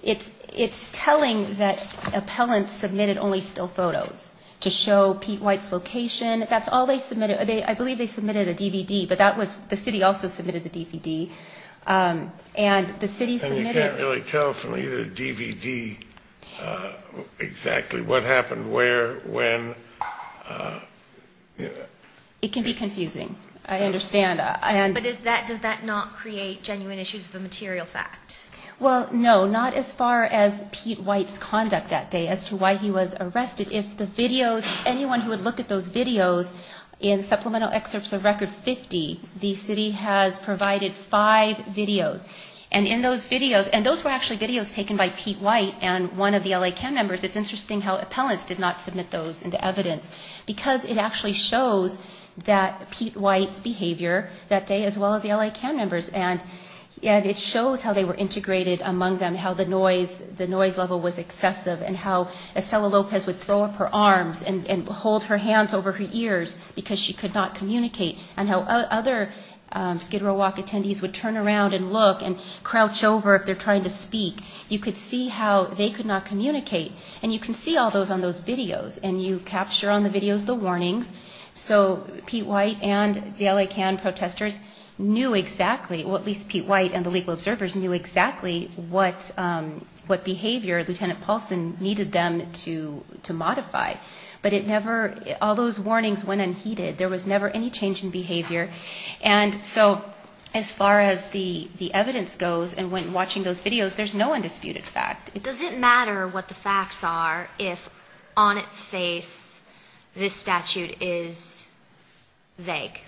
it's telling that appellants submitted only still photos to show Pete White's location. That's all they submitted. I believe they submitted a DVD, but the city also submitted the DVD. And you can't really tell from either the DVD exactly what happened where, when. It can be confusing. I understand. But does that not create genuine issues with the material facts? Well, no, not as far as Pete White's conduct that day, as to why he was arrested. If the videos, anyone who would look at those videos, in supplemental excerpts of Record 50, the city has provided five videos. And in those videos, and those were actually videos taken by Pete White and one of the L.A. CAN members. It's interesting how appellants did not submit those into evidence, because it actually showed that Pete White's behavior that day, as well as the L.A. CAN members. And it shows how they were integrated among them, how the noise level was excessive, and how Estella Lopez would throw up her arms and hold her hands over her ears because she could not communicate, and how other Skid Row walk attendees would turn around and look and crouch over if they're trying to speak. You could see how they could not communicate. And you can see all those on those videos. And you capture on the videos the warnings. So Pete White and the L.A. CAN protesters knew exactly, or at least Pete White and the legal observers knew exactly, what behavior Lieutenant Paulson needed them to modify. But it never, all those warnings went unheeded. There was never any change in behavior. And so, as far as the evidence goes, and when watching those videos, there's no undisputed fact. Does it matter what the facts are if, on its face, this statute is vague?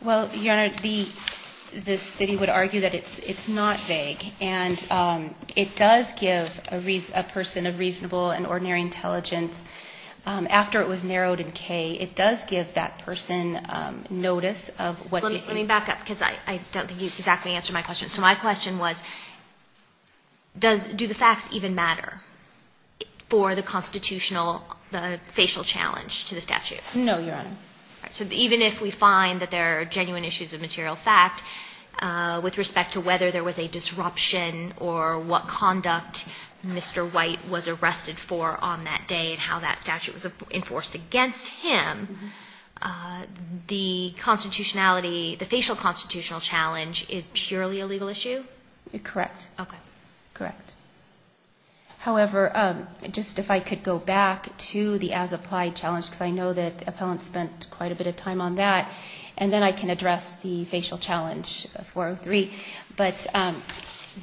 Well, Your Honor, the city would argue that it's not vague. And it does give a person a reasonable and ordinary intelligence. After it was narrowed in K, it does give that person notice of what they see. Let me back up because I don't think you exactly answered my question. So my question was, do the facts even matter for the constitutional, the facial challenge to the statute? No, Your Honor. So even if we find that there are genuine issues of material fact, with respect to whether there was a disruption or what conduct Mr. White was arrested for on that day and how that statute was enforced against him, the constitutionality, the facial constitutional challenge is purely a legal issue? Correct. Okay. Correct. However, just if I could go back to the as-applied challenge, because I know that the appellant spent quite a bit of time on that, and then I can address the facial challenge 403. But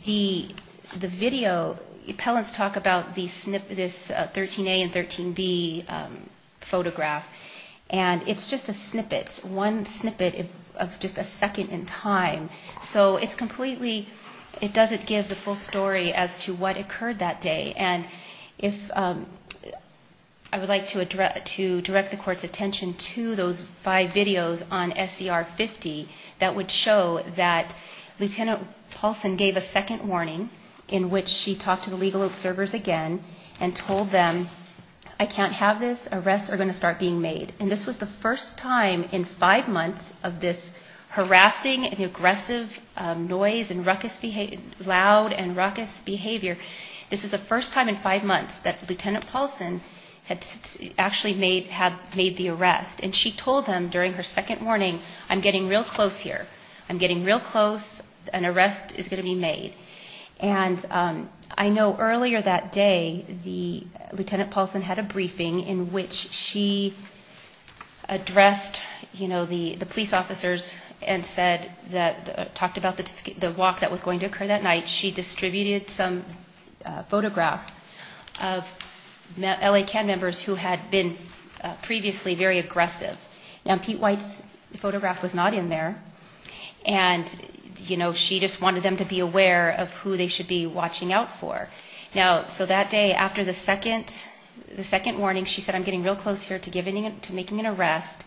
the video, appellants talk about this 13A and 13B photograph, and it's just a snippet, one snippet of just a second in time. So it's completely, it doesn't give the full story as to what occurred that day. And if I would like to direct the court's attention to those five videos on SDR 50, that would show that Lieutenant Paulson gave a second warning, in which she talked to the legal observers again and told them, I can't have this, arrests are going to start being made. And this was the first time in five months of this harassing and aggressive noise and ruckus, loud and ruckus behavior. This is the first time in five months that Lieutenant Paulson had actually made the arrest. And she told them during her second warning, I'm getting real close here. I'm getting real close. An arrest is going to be made. And I know earlier that day, Lieutenant Paulson had a briefing in which she addressed, you know, the police officers and said, talked about the walk that was going to occur that night. And she distributed some photographs of LA CAD members who had been previously very aggressive. Now, Pete White's photograph was not in there. And, you know, she just wanted them to be aware of who they should be watching out for. Now, so that day, after the second warning, she said, I'm getting real close here to making an arrest.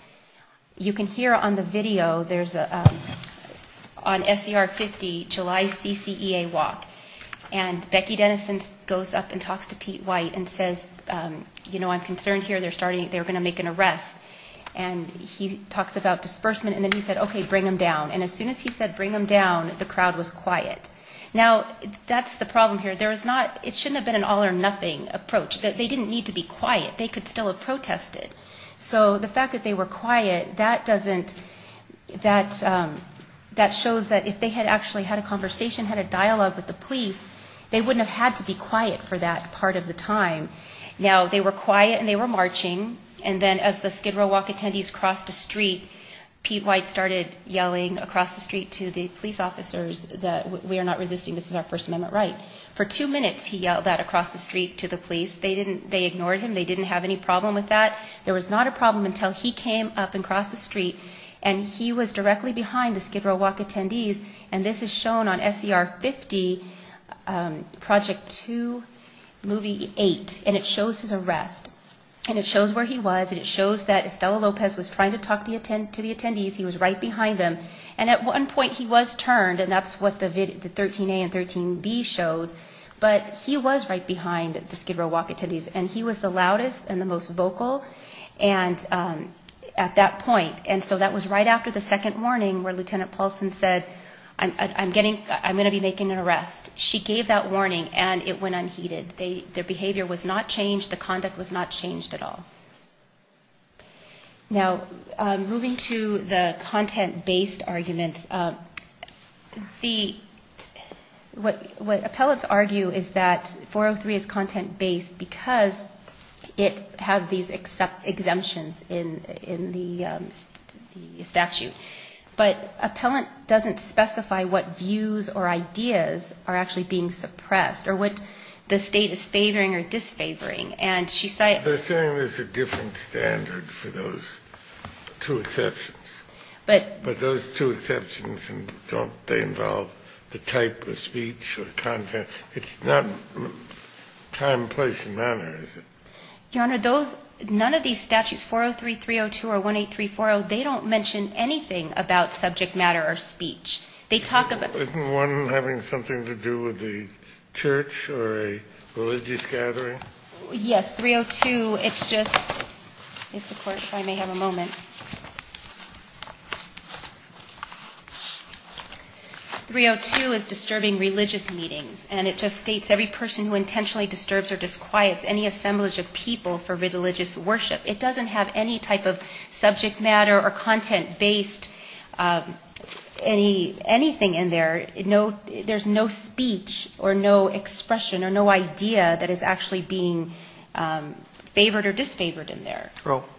You can hear on the video, there's a, on SER 50, July CCEA walk. And Becky Dennison goes up and talks to Pete White and says, you know, I'm concerned here. They're starting, they're going to make an arrest. And he talks about disbursement. And then he said, okay, bring them down. And as soon as he said bring them down, the crowd was quiet. Now, that's the problem here. There is not, it shouldn't have been an all or nothing approach. They didn't need to be quiet. They could still have protested. So the fact that they were quiet, that doesn't, that shows that if they had actually had a conversation, had a dialogue with the police, they wouldn't have had to be quiet for that part of the time. Now, they were quiet and they were marching. And then as the Skid Row walk attendees crossed the street, Pete White started yelling across the street to the police officers that we are not resisting, this is our First Amendment right. For two minutes, he yelled that across the street to the police. They ignored him. They didn't have any problem with that. There was not a problem until he came up and crossed the street. And he was directly behind the Skid Row walk attendees. And this is shown on SER 50, Project 2, movie 8. And it shows his arrest. And it shows where he was. And it shows that Estella Lopez was trying to talk to the attendees. He was right behind them. And at one point, he was turned, and that's what the 13A and 13B shows. But he was right behind the Skid Row walk attendees. And he was the loudest and the most vocal at that point. And so that was right after the second warning where Lieutenant Paulson said, I'm going to be making an arrest. She gave that warning, and it went unheeded. The behavior was not changed. The conduct was not changed at all. Now, moving to the content-based arguments. Let's see. What appellants argue is that 403 is content-based because it has these exemptions in the statute. But an appellant doesn't specify what views or ideas are actually being suppressed or what the state is favoring or disfavoring. They're saying there's a different standard for those two exceptions. But those two exceptions don't involve the type of speech or content. It's not time, place, and manner, is it? Your Honor, none of these statutes, 403.302 or 183.40, they don't mention anything about subject matter or speech. Isn't one having something to do with the church or a religious gathering? Yes, 302, it's just – if the Court may have a moment. 302 is disturbing religious meetings, and it just states, every person who intentionally disturbs or disquiets any assemblage of people for religious worship. It doesn't have any type of subject matter or content-based anything in there. There's no speech or no expression or no idea that is actually being favored or disfavored in there.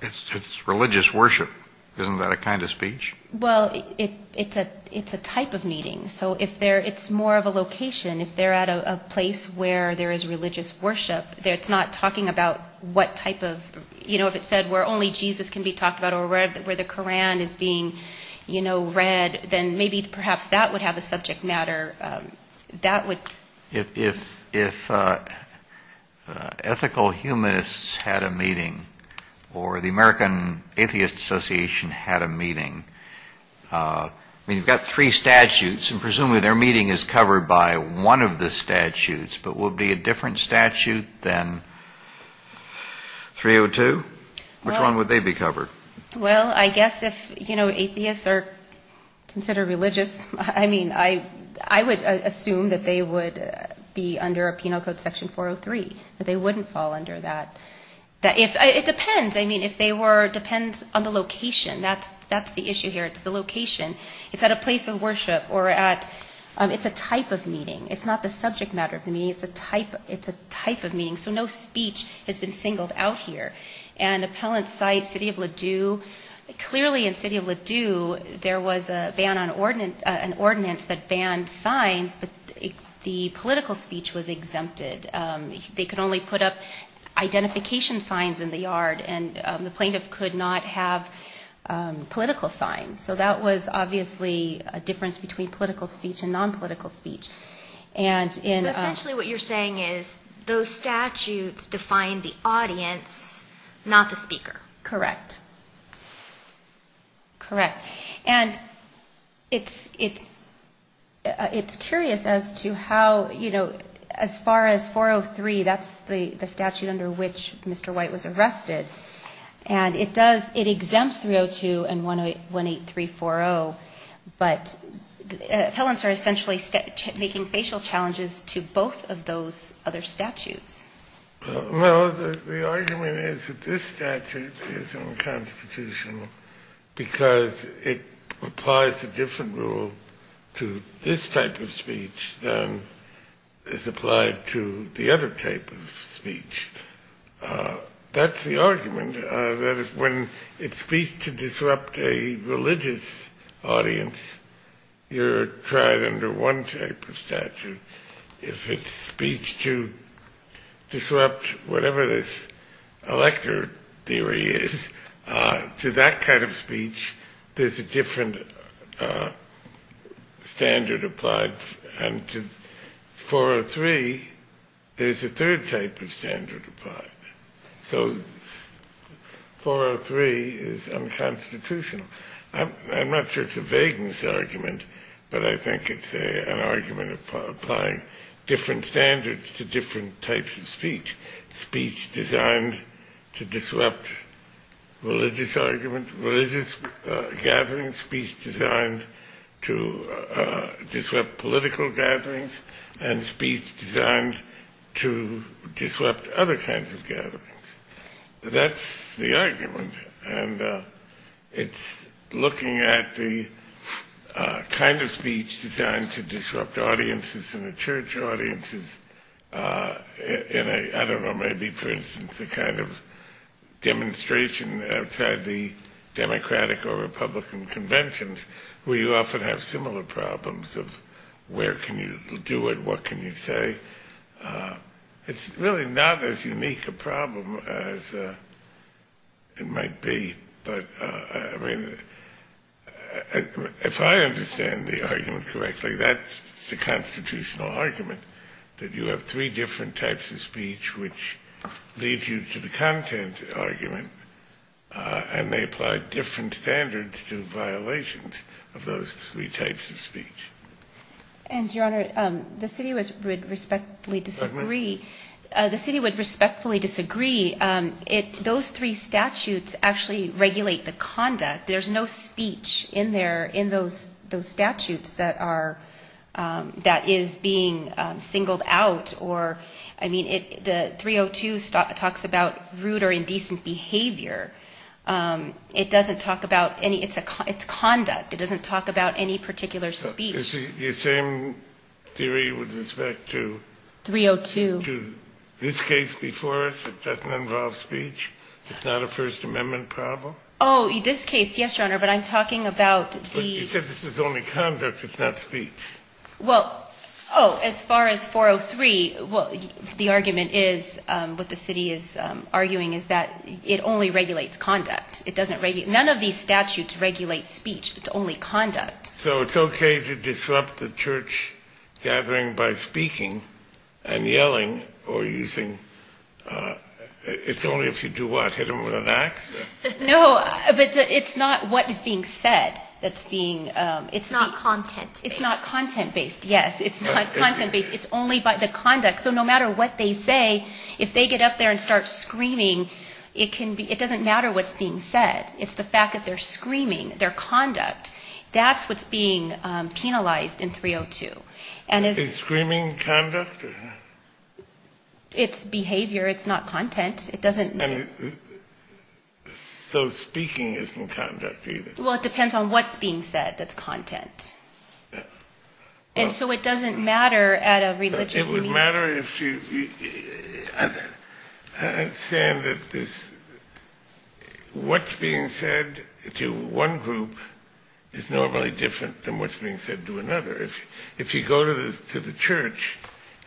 It's religious worship. Isn't that a kind of speech? Well, it's a type of meeting. So it's more of a location. If they're at a place where there is religious worship, it's not talking about what type of – if it said where only Jesus can be talked about or where the Koran is being read, then maybe perhaps that would have a subject matter. If ethical humanists had a meeting or the American Atheist Association had a meeting, you've got three statutes, and presumably their meeting is covered by one of the statutes, but will it be a different statute than 302? Which one would they be covered? Well, I guess if atheists are considered religious, I mean, I would assume that they would be under penal code section 403. They wouldn't fall under that. It depends. I mean, if they were – it depends on the location. That's the issue here. It's the location. If at a place of worship or at – it's a type of meeting. It's not the subject matter of the meeting. It's a type of meeting. So no speech has been singled out here. And appellate sites, city of Ladue – clearly in city of Ladue, there was an ordinance that banned signs. The political speech was exempted. They could only put up identification signs in the yard, and the plaintiff could not have political signs. So that was obviously a difference between political speech and nonpolitical speech. And in – Essentially what you're saying is those statutes define the audience, not the speaker. Correct. Correct. And it's curious as to how, you know, as far as 403, that's the statute under which Mr. White was arrested, and it does – it exempts 302 and 18340, but appellants are essentially making facial challenges to both of those other statutes. Well, the argument is that this statute is unconstitutional because it applies a different rule to this type of speech than is applied to the other type of speech. That's the argument. That is, when it speaks to disrupt a religious audience, you're tried under one type of statute. If it's speech to disrupt whatever this elector theory is, to that kind of speech, there's a different standard applied, and to 403, there's a third type of standard applied. So 403 is unconstitutional. I'm not sure it's a vagueness argument, but I think it's an argument applying different standards to different types of speech, speech designed to disrupt religious arguments, religious gatherings, speech designed to disrupt political gatherings, and speech designed to disrupt other kinds of gatherings. That's the argument. And it's looking at the kind of speech designed to disrupt audiences and the church audiences, and I don't know, maybe, for instance, the kind of demonstration outside the Democratic or Republican conventions, where you often have similar problems of where can you do it, what can you say. It's really not as unique a problem as it might be, but if I understand the argument correctly, that's the constitutional argument, that you have three different types of speech which leads you to the content argument, and they apply different standards to violations of those three types of speech. And, Your Honor, the city would respectfully disagree. The city would respectfully disagree. Those three statutes actually regulate the conduct. There's no speech in those statutes that is being singled out. The 302 talks about rude or indecent behavior. It doesn't talk about any – it's conduct. It doesn't talk about any particular speech. Is the same theory with respect to… 302. …to this case before us that doesn't involve speech? It's not a First Amendment problem? Oh, this case, yes, Your Honor, but I'm talking about the… But you said this is only conduct, it's not speech. Well, oh, as far as 403, the argument is, what the city is arguing, is that it only regulates conduct. It doesn't – none of these statutes regulate speech. It's only conduct. So it's okay to disrupt the church gathering by speaking and yelling or using – it's only if you do what? Hit them with an ax? No, but it's not what is being said that's being – It's not content-based. It's not content-based, yes. It's not content-based. It's only by the conduct. So no matter what they say, if they get up there and start screaming, it can be – it doesn't matter what's being said. It's the fact that they're screaming, their conduct. That's what's being penalized in 302. Is screaming conduct? It's behavior. It's not content. It doesn't – So speaking isn't conduct either? Well, it depends on what's being said. That's content. And so it doesn't matter at a religious meeting. It would matter if you – I understand that this – what's being said to one group is normally different than what's being said to another. If you go to the church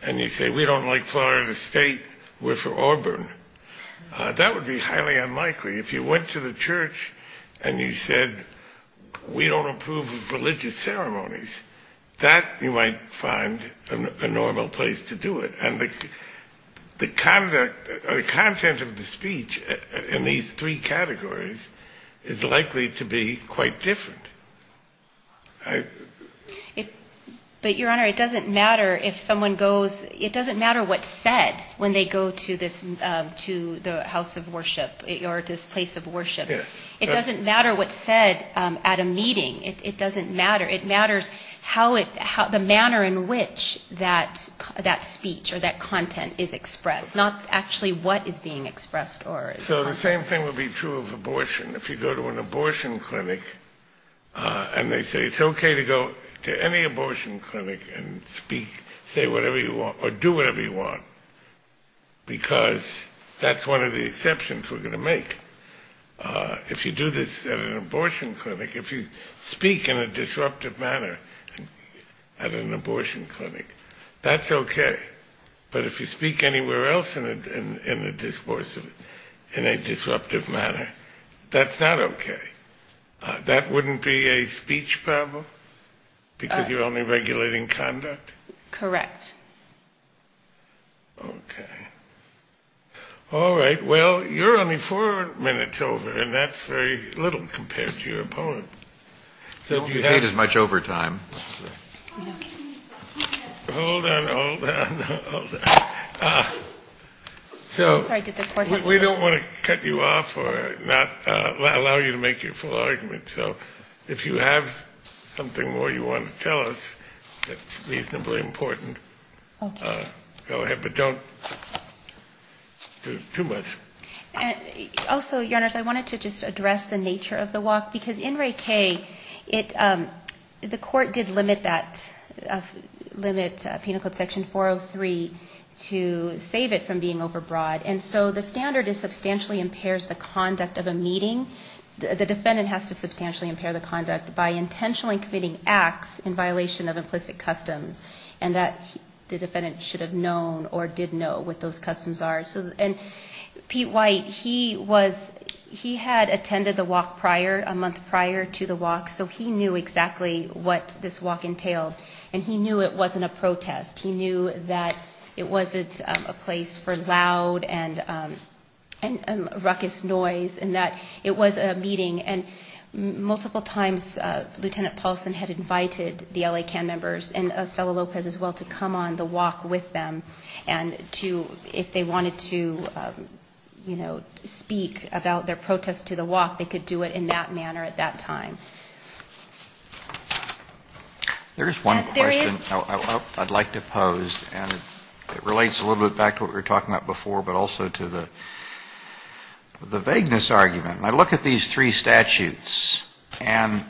and you say, we don't like Florida State, we're for Auburn, that would be highly unlikely. If you went to the church and you said, we don't approve of religious ceremonies, that you might find a normal place to do it. And the content of the speech in these three categories is likely to be quite different. But, Your Honor, it doesn't matter if someone goes – it doesn't matter what's said when they go to the house of worship or this place of worship. It doesn't matter what's said at a meeting. It doesn't matter. It matters how – the manner in which that speech or that content is expressed, not actually what is being expressed or – So the same thing would be true of abortion. If you go to an abortion clinic and they say, it's okay to go to any abortion clinic and speak, say whatever you want or do whatever you want, because that's one of the exceptions we're going to make. If you do this at an abortion clinic, if you speak in a disruptive manner at an abortion clinic, that's okay. But if you speak anywhere else in a disruptive manner, that's not okay. That wouldn't be a speech problem because you're only regulating conduct? Correct. Okay. All right. Well, you're only four minutes over, and that's very little compared to your opponent. You paid as much overtime. Hold on, hold on, hold on. So we don't want to cut you off or allow you to make your full argument. So if you have something more you want to tell us that's reasonably important, go ahead, but don't do too much. Also, Your Honor, if I wanted to just address the nature of the walk, because in Ray K., the court did limit Penal Code Section 403 to save it from being overbroad, and so the standard is substantially impairs the conduct of a meeting. The defendant has to substantially impair the conduct by intentionally committing acts in violation of implicit customs, and that the defendant should have known or did know what those customs are. And Pete White, he had attended the walk prior, a month prior to the walk, so he knew exactly what this walk entailed, and he knew it wasn't a protest. He knew that it wasn't a place for loud and ruckus noise and that it was a meeting. And multiple times, Lieutenant Paulson had invited the L.A. TAN members and Othello Lopez as well to come on the walk with them, and if they wanted to speak about their protest to the walk, they could do it in that manner at that time. There is one question I'd like to pose, and it relates a little bit back to what we were talking about before, but also to the vagueness argument. I look at these three statutes, and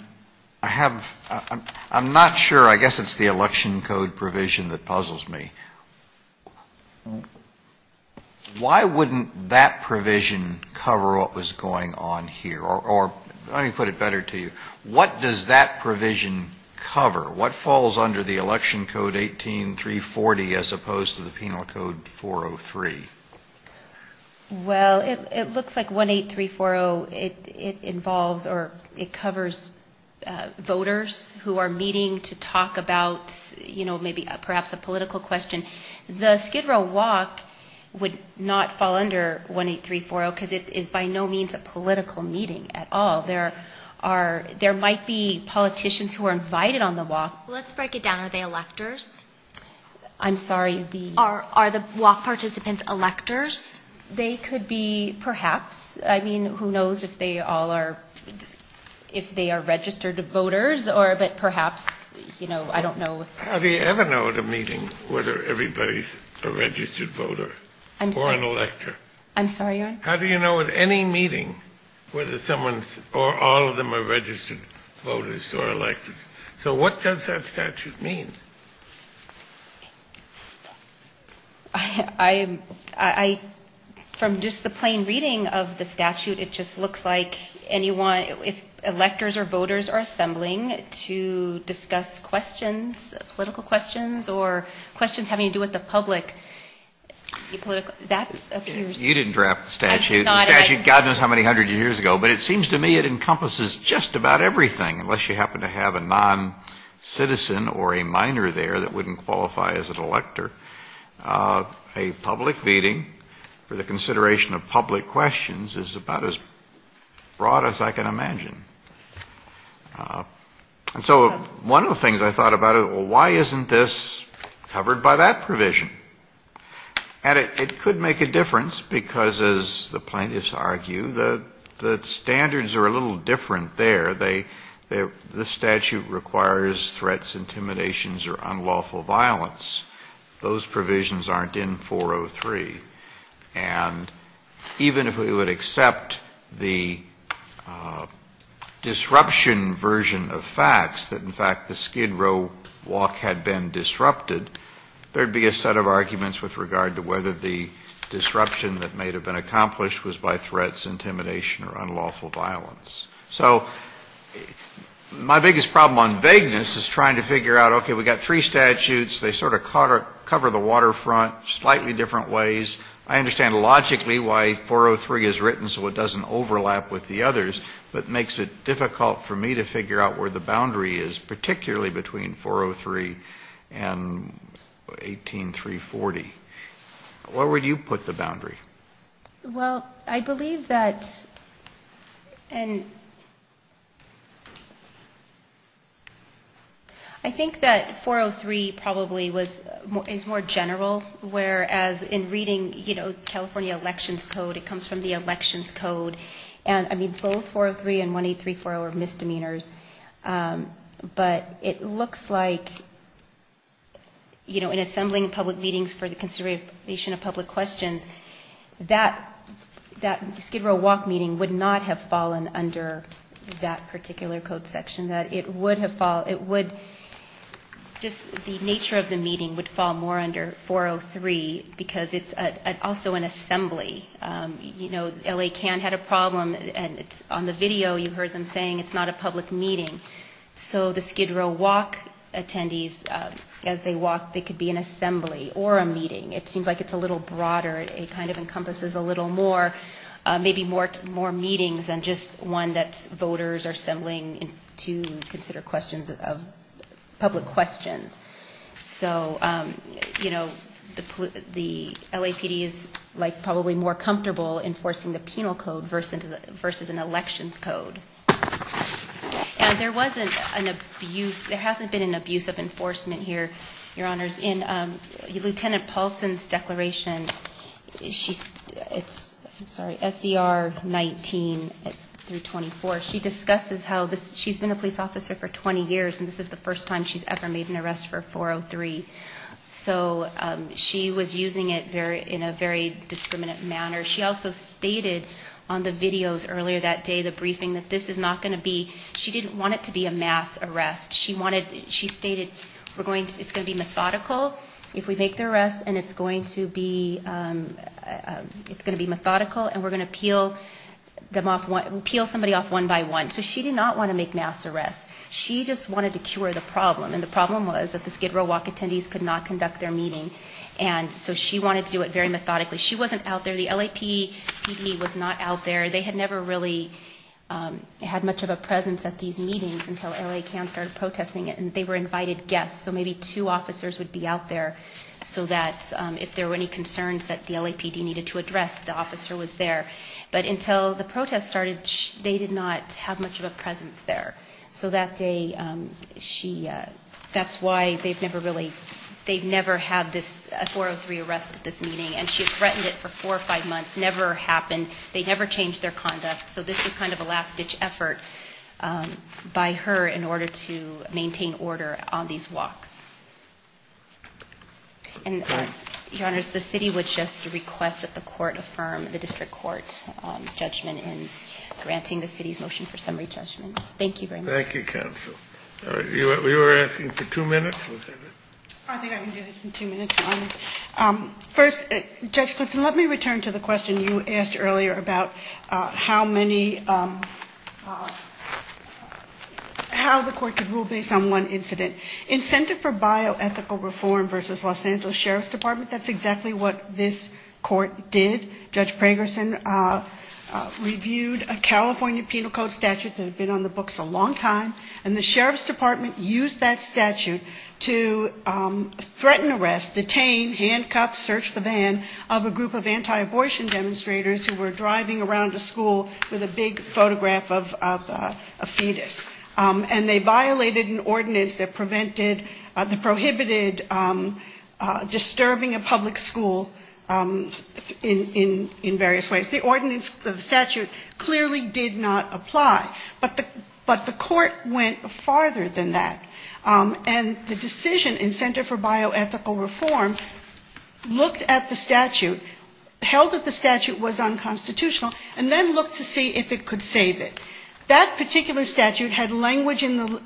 I'm not sure, I guess it's the election code provision that puzzles me. Why wouldn't that provision cover what was going on here, or let me put it better to you. What does that provision cover? What falls under the election code 18340 as opposed to the penal code 403? Well, it looks like 18340, it involves or it covers voters who are meeting to talk about perhaps a political question. The Skid Row walk would not fall under 18340 because it is by no means a political meeting at all. There might be politicians who are invited on the walk. Let's break it down. Are they electors? I'm sorry. Are the walk participants electors? They could be perhaps. I mean, who knows if they are registered voters, but perhaps, you know, I don't know. How do you ever know at a meeting whether everybody is a registered voter or an elector? I'm sorry. How do you know at any meeting whether someone or all of them are registered voters or electors? So what does that statute mean? From just the plain reading of the statute, it just looks like if electors or voters are assembling to discuss questions, political questions or questions having to do with the public. You didn't draft the statute. The statute, God knows how many hundred years ago, but it seems to me it encompasses just about everything unless you happen to have a non-citizen or a minor there that wouldn't qualify as an elector. A public meeting for the consideration of public questions is about as broad as I can imagine. And so one of the things I thought about, why isn't this covered by that provision? And it could make a difference because, as the plaintiffs argue, the standards are a little different there. The statute requires threats, intimidations or unlawful violence. Those provisions aren't in 403. And even if we would accept the disruption version of facts, that in fact the Skid Row walk had been disrupted, there would be a set of arguments with regard to whether the disruption that may have been accomplished was by threats, intimidation or unlawful violence. So my biggest problem on vagueness is trying to figure out, okay, we've got three statutes. They sort of cover the waterfront slightly different ways. I understand logically why 403 is written so it doesn't overlap with the others, but it makes it difficult for me to figure out where the boundary is, particularly between 403 and 18340. Where would you put the boundary? Well, I believe that, and I think that 403 probably is more general, whereas in reading California elections code, it comes from the elections code, and I mean both 403 and 18340 are misdemeanors. But it looks like, you know, in assembling public meetings for the consideration of public questions, that Skid Row walk meeting would not have fallen under that particular code section. It would have fallen, it would, just the nature of the meeting would fall more under 403 because it's also an assembly. You know, LA CAN had a problem, and on the video you heard them saying it's not a public meeting. So the Skid Row walk attendees, as they walk, it could be an assembly or a meeting. It seems like it's a little broader. It kind of encompasses a little more, maybe more meetings than just one that voters are assembling to consider questions of public questions. So, you know, the LAPD is probably more comfortable enforcing the penal code versus an elections code. And there wasn't an abuse, there hasn't been an abuse of enforcement here, Your Honors. In Lieutenant Paulson's declaration, SDR 19-24, she discusses how she's been a police officer for 20 years, and this is the first time she's ever made an arrest for 403. So she was using it in a very discriminant manner. She also stated on the videos earlier that day, the briefing, that this is not going to be, she didn't want it to be a mass arrest. She stated it's going to be methodical if we make the arrest, and it's going to be methodical, and we're going to peel somebody off one by one. So she did not want to make mass arrests. She just wanted to cure the problem, and the problem was that the Skid Row walk attendees could not conduct their meetings, and so she wanted to do it very methodically. She wasn't out there. The LAPD was not out there. They had never really had much of a presence at these meetings until L.A. County started protesting it, and they were invited guests, so maybe two officers would be out there, so that if there were any concerns that the LAPD needed to address, the officer was there. But until the protest started, they did not have much of a presence there, so that's why they've never really, they've never had a 403 arrest at this meeting, and she threatened it for four or five months. It never happened. They never changed their conduct, so this was kind of a last-ditch effort by her in order to maintain order on these walks. And, Your Honors, the city would just request that the court affirm the district court's judgment in granting the city's motion for summary judgment. Thank you very much. Thank you, counsel. We were asking for two minutes. I think I can do this in two minutes. First, Judge Clifton, let me return to the question you asked earlier about how many, how the court could rule based on one incident. In Center for Bioethical Reform v. Los Angeles Sheriff's Department, that's exactly what this court did. Judge Pragerson reviewed a California Penal Code statute that had been on the books a long time, and the Sheriff's Department used that statute to threaten arrest, detain, handcuff, search the van, of a group of anti-abortion demonstrators who were driving around the school with a big photograph of a fetus. And they violated an ordinance that prohibited disturbing a public school in various ways. The ordinance, the statute, clearly did not apply. But the court went farther than that. And the decision in Center for Bioethical Reform looked at the statute, held that the statute was unconstitutional, and then looked to see if it could save it. That particular statute had language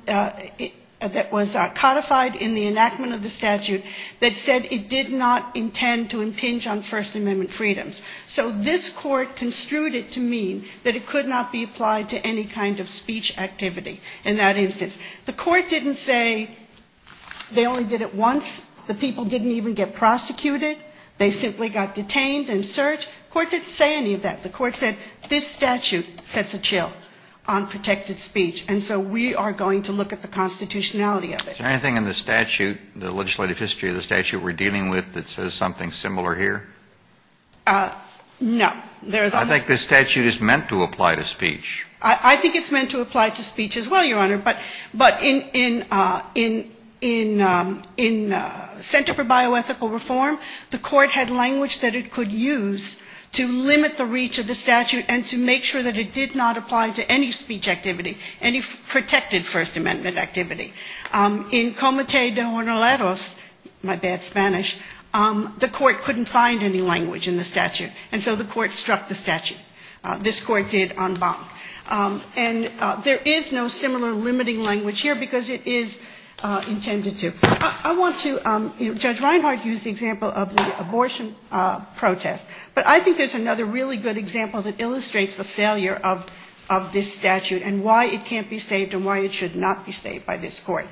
that was codified in the enactment of the statute that said it did not intend to impinge on First Amendment freedoms. So this court construed it to mean that it could not be applied to any kind of speech activity in that instance. The court didn't say they only did it once, the people didn't even get prosecuted, they simply got detained and searched. The court didn't say any of that. The court said this statute sets a chill on protected speech, and so we are going to look at the constitutionality of it. Is there anything in the statute, the legislative history of the statute we're dealing with that says something similar here? No. I think this statute is meant to apply to speech. I think it's meant to apply to speech as well, Your Honor. But in Center for Bioethical Reform, the court had language that it could use to limit the reach of the statute and to make sure that it did not apply to any speech activity, any protected First Amendment activity. In Comité de Honorarios, my bad Spanish, the court couldn't find any language in the statute, and so the court struck the statute. This court did en banc. And there is no similar limiting language here because it is intended to. I want to, Judge Reinhart used the example of the abortion protest, but I think there's another really good example that illustrates the failure of this statute and why it can't be saved and why it should not be saved by this court.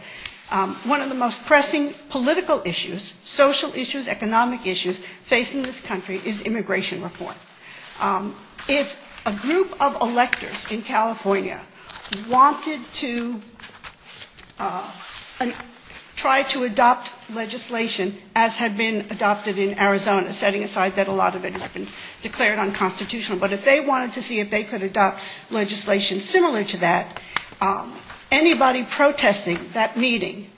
One of the most pressing political issues, social issues, economic issues facing this country is immigration reform. If a group of electors in California wanted to try to adopt legislation as had been adopted in Arizona, setting aside that a lot of it had been declared unconstitutional, but if they wanted to see if they could adopt legislation similar to that, anybody protesting that meeting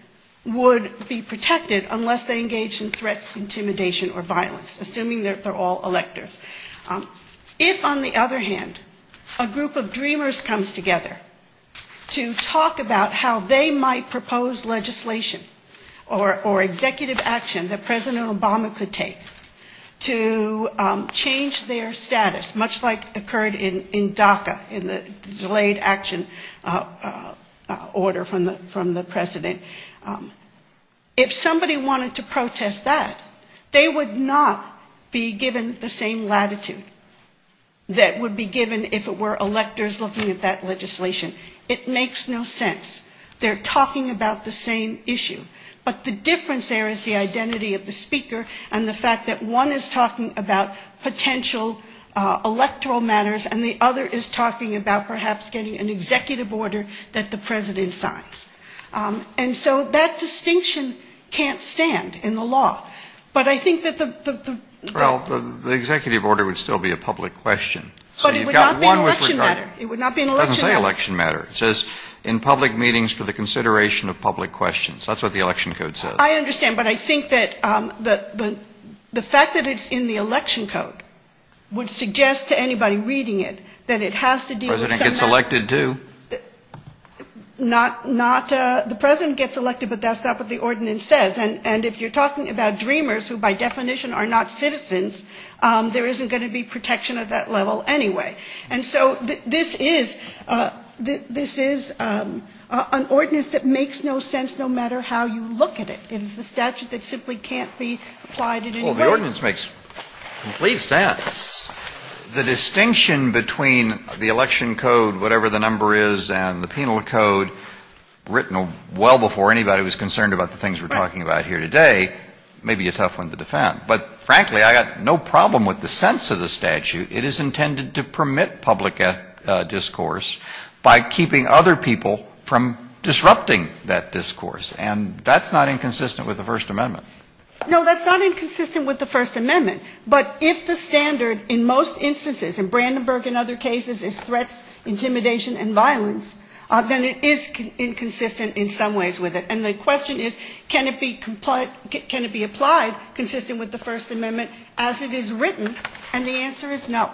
would be protected unless they engaged in threats, intimidation, or violence, assuming that they're all electors. If, on the other hand, a group of dreamers comes together to talk about how they might propose legislation or executive action that President Obama could take to change their status, much like occurred in DACA, in the delayed action order from the President, if somebody wanted to protest that, they would not be given the same latitude that would be given if it were electors looking at that legislation. It makes no sense. They're talking about the same issue, but the difference there is the identity of the speaker and the fact that one is talking about potential electoral matters and the other is talking about perhaps getting an executive order that the President signs. And so that distinction can't stand in the law. But I think that the... Well, the executive order would still be a public question. But it would not be an election matter. It doesn't say election matter. It says, in public meetings for the consideration of public questions. That's what the election code says. I understand, but I think that the fact that it's in the election code would suggest to anybody reading it that it has to do with... President gets elected too. Not... The President gets elected, but that's not what the ordinance says. And if you're talking about DREAMers, who by definition are not citizens, there isn't going to be protection at that level anyway. And so this is an ordinance that makes no sense no matter how you look at it. It is a statute that simply can't be applied in any way. Well, the ordinance makes complete sense. The distinction between the election code, whatever the number is, and the penal code, written well before anybody was concerned about the things we're talking about here today, may be a tough one to defend. But frankly, I've got no problem with the sense of the statute. It is intended to permit public discourse by keeping other people from disrupting that discourse. And that's not inconsistent with the First Amendment. No, that's not inconsistent with the First Amendment. But if the standard in most instances, in Brandenburg and other cases, is threat, intimidation, and violence, then it is inconsistent in some ways with it. And the question is, can it be applied consistent with the First Amendment as it is written? And the answer is no.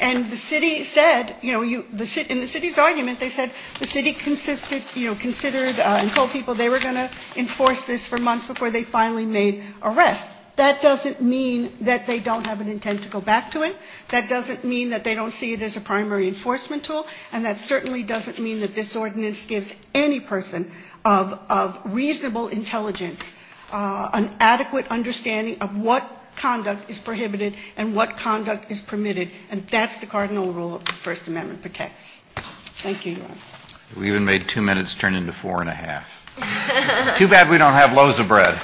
And the city said, you know, in the city's argument, they said the city considered and told people they were going to enforce this for months before they finally made arrests. But that doesn't mean that they don't have an intent to go back to it. That doesn't mean that they don't see it as a primary enforcement tool. And that certainly doesn't mean that this ordinance gives any person of reasonable intelligence an adequate understanding of what conduct is prohibited and what conduct is permitted. And that's the cardinal rule of the First Amendment protects. Thank you. We even made two minutes turn into four and a half. Too bad we don't have loaves of bread.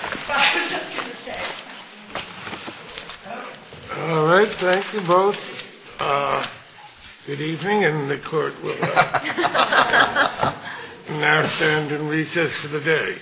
All right. Thank you both. Good evening. And the court will now stand and recess for the day.